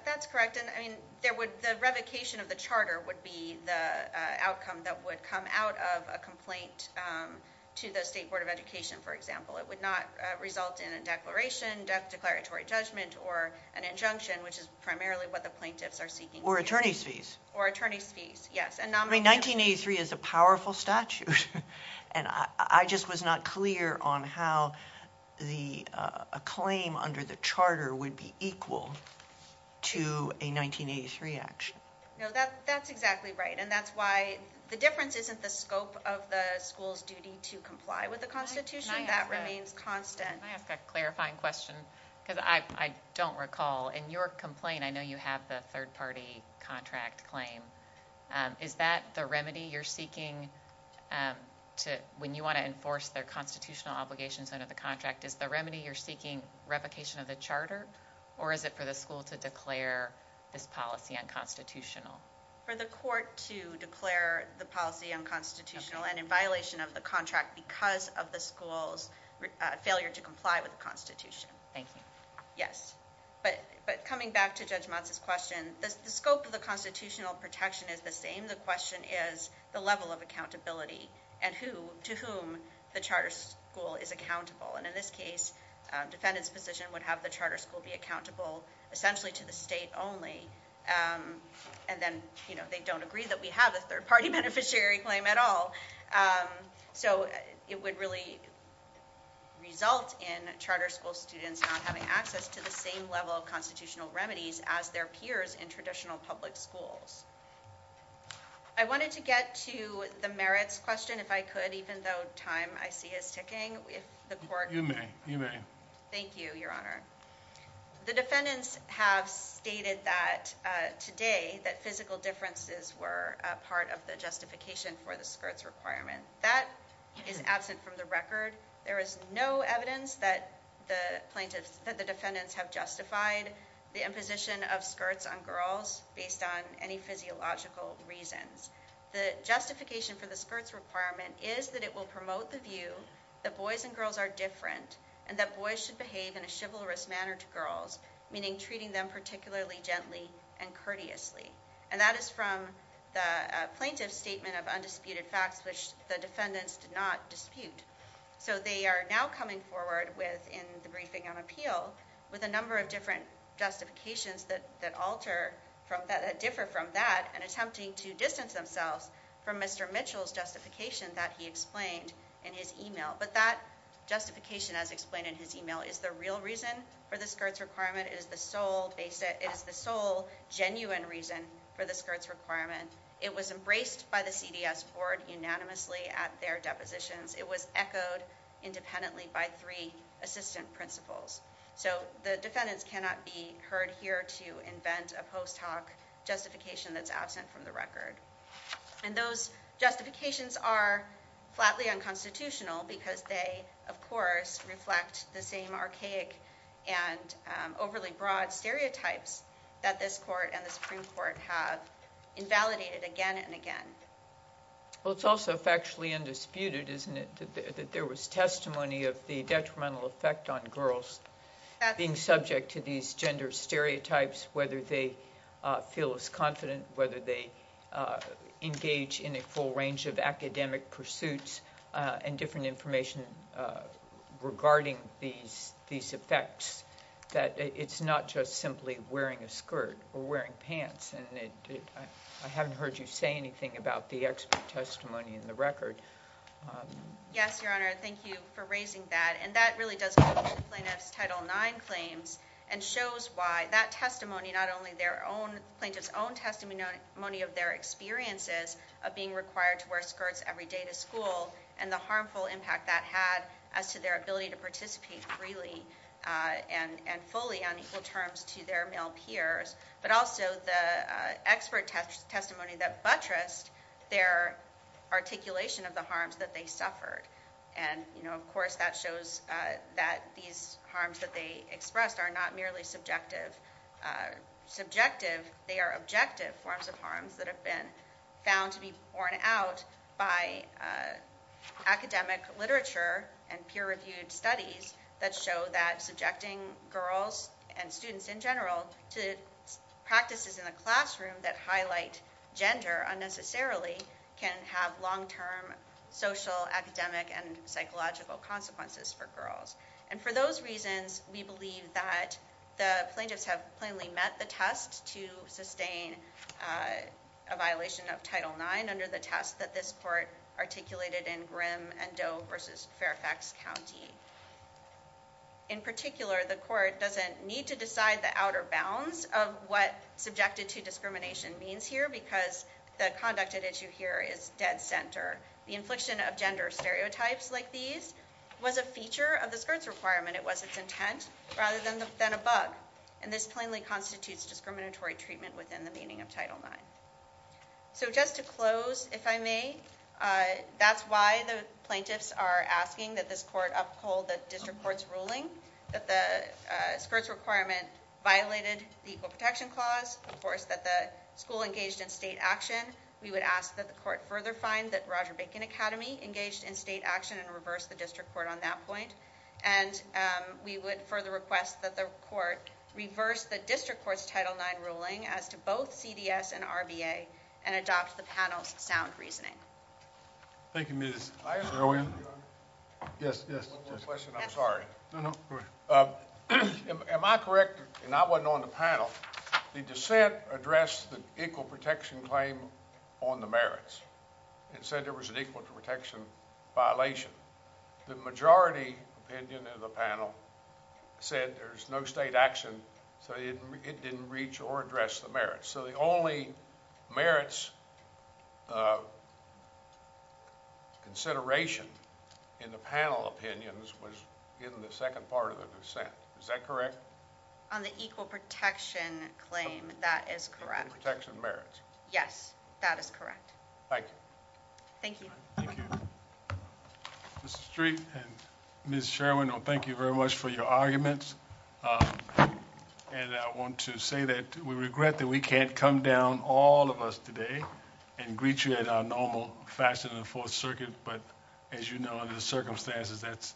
That's correct. And there would – the revocation of the charter would be the outcome that would come out of a complaint to the State Board of Education, for example. It would not result in a declaration, death declaratory judgment, or an injunction, which is primarily what the plaintiffs are seeking. Or attorney's fees. Or attorney's fees, yes. I mean, 1983 is a powerful statute. And I just was not clear on how a claim under the charter would be equal to a 1983 action. No, that's exactly right. And that's why the difference isn't the scope of the school's duty to comply with the Constitution. That remains constant. Can I ask a clarifying question? Because I don't recall. In your complaint, I know you have the third-party contract claim. Is that the remedy you're seeking to – when you want to enforce the constitutional obligations under the contract, is the remedy you're seeking revocation of the charter? Or is it for the school to declare its policy unconstitutional? For the court to declare the policy unconstitutional and in violation of the contract because of the school's failure to comply with the Constitution. Thank you. Yes. But coming back to Judge Motz's question, the scope of the constitutional protection is the same. The question is the level of accountability and to whom the charter school is accountable. And in this case, defendant's position would have the charter school be accountable essentially to the state only. And then they don't agree that we have a third-party beneficiary claim at all. So it would really result in charter school students not having access to the same level of constitutional remedies as their peers in traditional public schools. I wanted to get to the merits question, if I could, even though time, I see, is ticking. You may. Thank you, Your Honor. The defendants have stated that today, that physical differences were a part of the justification for the skirts requirement. That is absent from the record. There is no evidence that the plaintiffs, that the defendants have justified the imposition of skirts on girls based on any physiological reasons. The justification for the skirts requirement is that it will promote the view that boys and girls are different and that boys should behave in a chivalrous manner to girls, meaning treating them particularly gently and courteously. And that is from the plaintiff's statement of undisputed facts, which the defendants did not dispute. So they are now coming forward in the briefing on appeal with a number of different justifications that differ from that and attempting to distance themselves from Mr. Mitchell's justification that he explained in his email. But that justification, as explained in his email, is the real reason for the skirts requirement. It's the sole genuine reason for the skirts requirement. It was embraced by the CDS board unanimously at their depositions. It was echoed independently by three assistant principals. So the defendants cannot be heard here to invent a post-talk justification that's absent from the record. And those justifications are flatly unconstitutional because they, of course, reflect the same archaic and overly broad stereotypes that this court and the Supreme Court have invalidated again and again. Well, it's also factually undisputed, isn't it, that there was testimony of the detrimental effect on girls being subject to these gender stereotypes, whether they feel as confident, whether they engage in a full range of academic pursuits and different information regarding these effects, that it's not just simply wearing a skirt or wearing pants. And I haven't heard you say anything about the expert testimony in the record. Yes, Your Honor. Thank you for raising that. And that really does explain Title IX claims and shows why that testimony, not only their own, plaintiff's own testimony of their experiences of being required to wear skirts every day to school and the harmful impact that had as to their ability to participate freely and fully on equal terms to their male peers, but also the expert testimony that buttressed their articulation of the harms that they suffered. And, of course, that shows that these harms that they express are not merely subjective. Subjective, they are objective forms of harms that have been found to be borne out by academic literature and peer-reviewed studies that show that subjecting girls and students in general to practices in a classroom that highlight gender unnecessarily can have long-term social, academic, and psychological consequences for girls. And for those reasons, we believe that the plaintiffs have plainly met the test to sustain a violation of Title IX under the test that this court articulated in Grimm and Doe v. Fairfax County. In particular, the court doesn't need to decide the outer bounds of what subjected to discrimination means here because the conduct at issue here is dead center. The infliction of gender stereotyped like these was a feature of the skirts requirement. It was its intent rather than a bug. And this plainly constitutes discriminatory treatment within the meaning of Title IX. So just to close, if I may, that's why the plaintiffs are asking that this court uphold the district court's ruling that the skirts requirement violated the Equal Protection Clause. Of course, that the school engaged in state action. We would ask that the court further find that Roger Bacon Academy engaged in state action and reverse the district court on that point. And we would further request that the court reverse the district court's Title IX ruling as to both CDS and RBA and adopt the panel's sound reasoning. Thank you, Ms. Rowan. Yes, yes. I'm sorry. Am I correct, and I wasn't on the panel, the dissent addressed the equal protection claim on the merits. It said there was an equal protection violation. The majority opinion of the panel said there's no state action, so it didn't reach or address the merits. So the only merits consideration in the panel opinions was given the second part of the dissent. Is that correct? On the equal protection claim, that is correct. Equal protection merits. Yes, that is correct. Thank you. Thank you. Mr. Street and Ms. Sherwin, thank you very much for your arguments. And I want to say that we regret that we can't come down, all of us today, and greet you in our normal fashion in the Fourth Circuit. But, as you know, under the circumstances, that's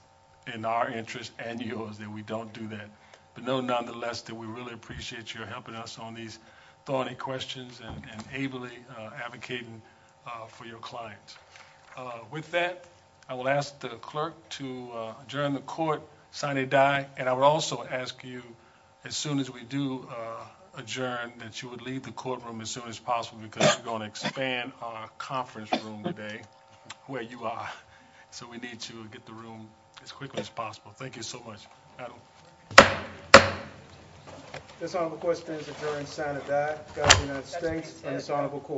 in our interest and yours that we don't do that. But know, nonetheless, that we really appreciate you helping us on these thorny questions and ably advocating for your clients. With that, I will ask the clerk to adjourn the court sine die. And I will also ask you, as soon as we do adjourn, that you would leave the courtroom as soon as possible because we're going to expand our conference room today where you are. So we need to get the room as quickly as possible. Thank you so much. Thank you. This honorable question is adjourned sine die. Thank you.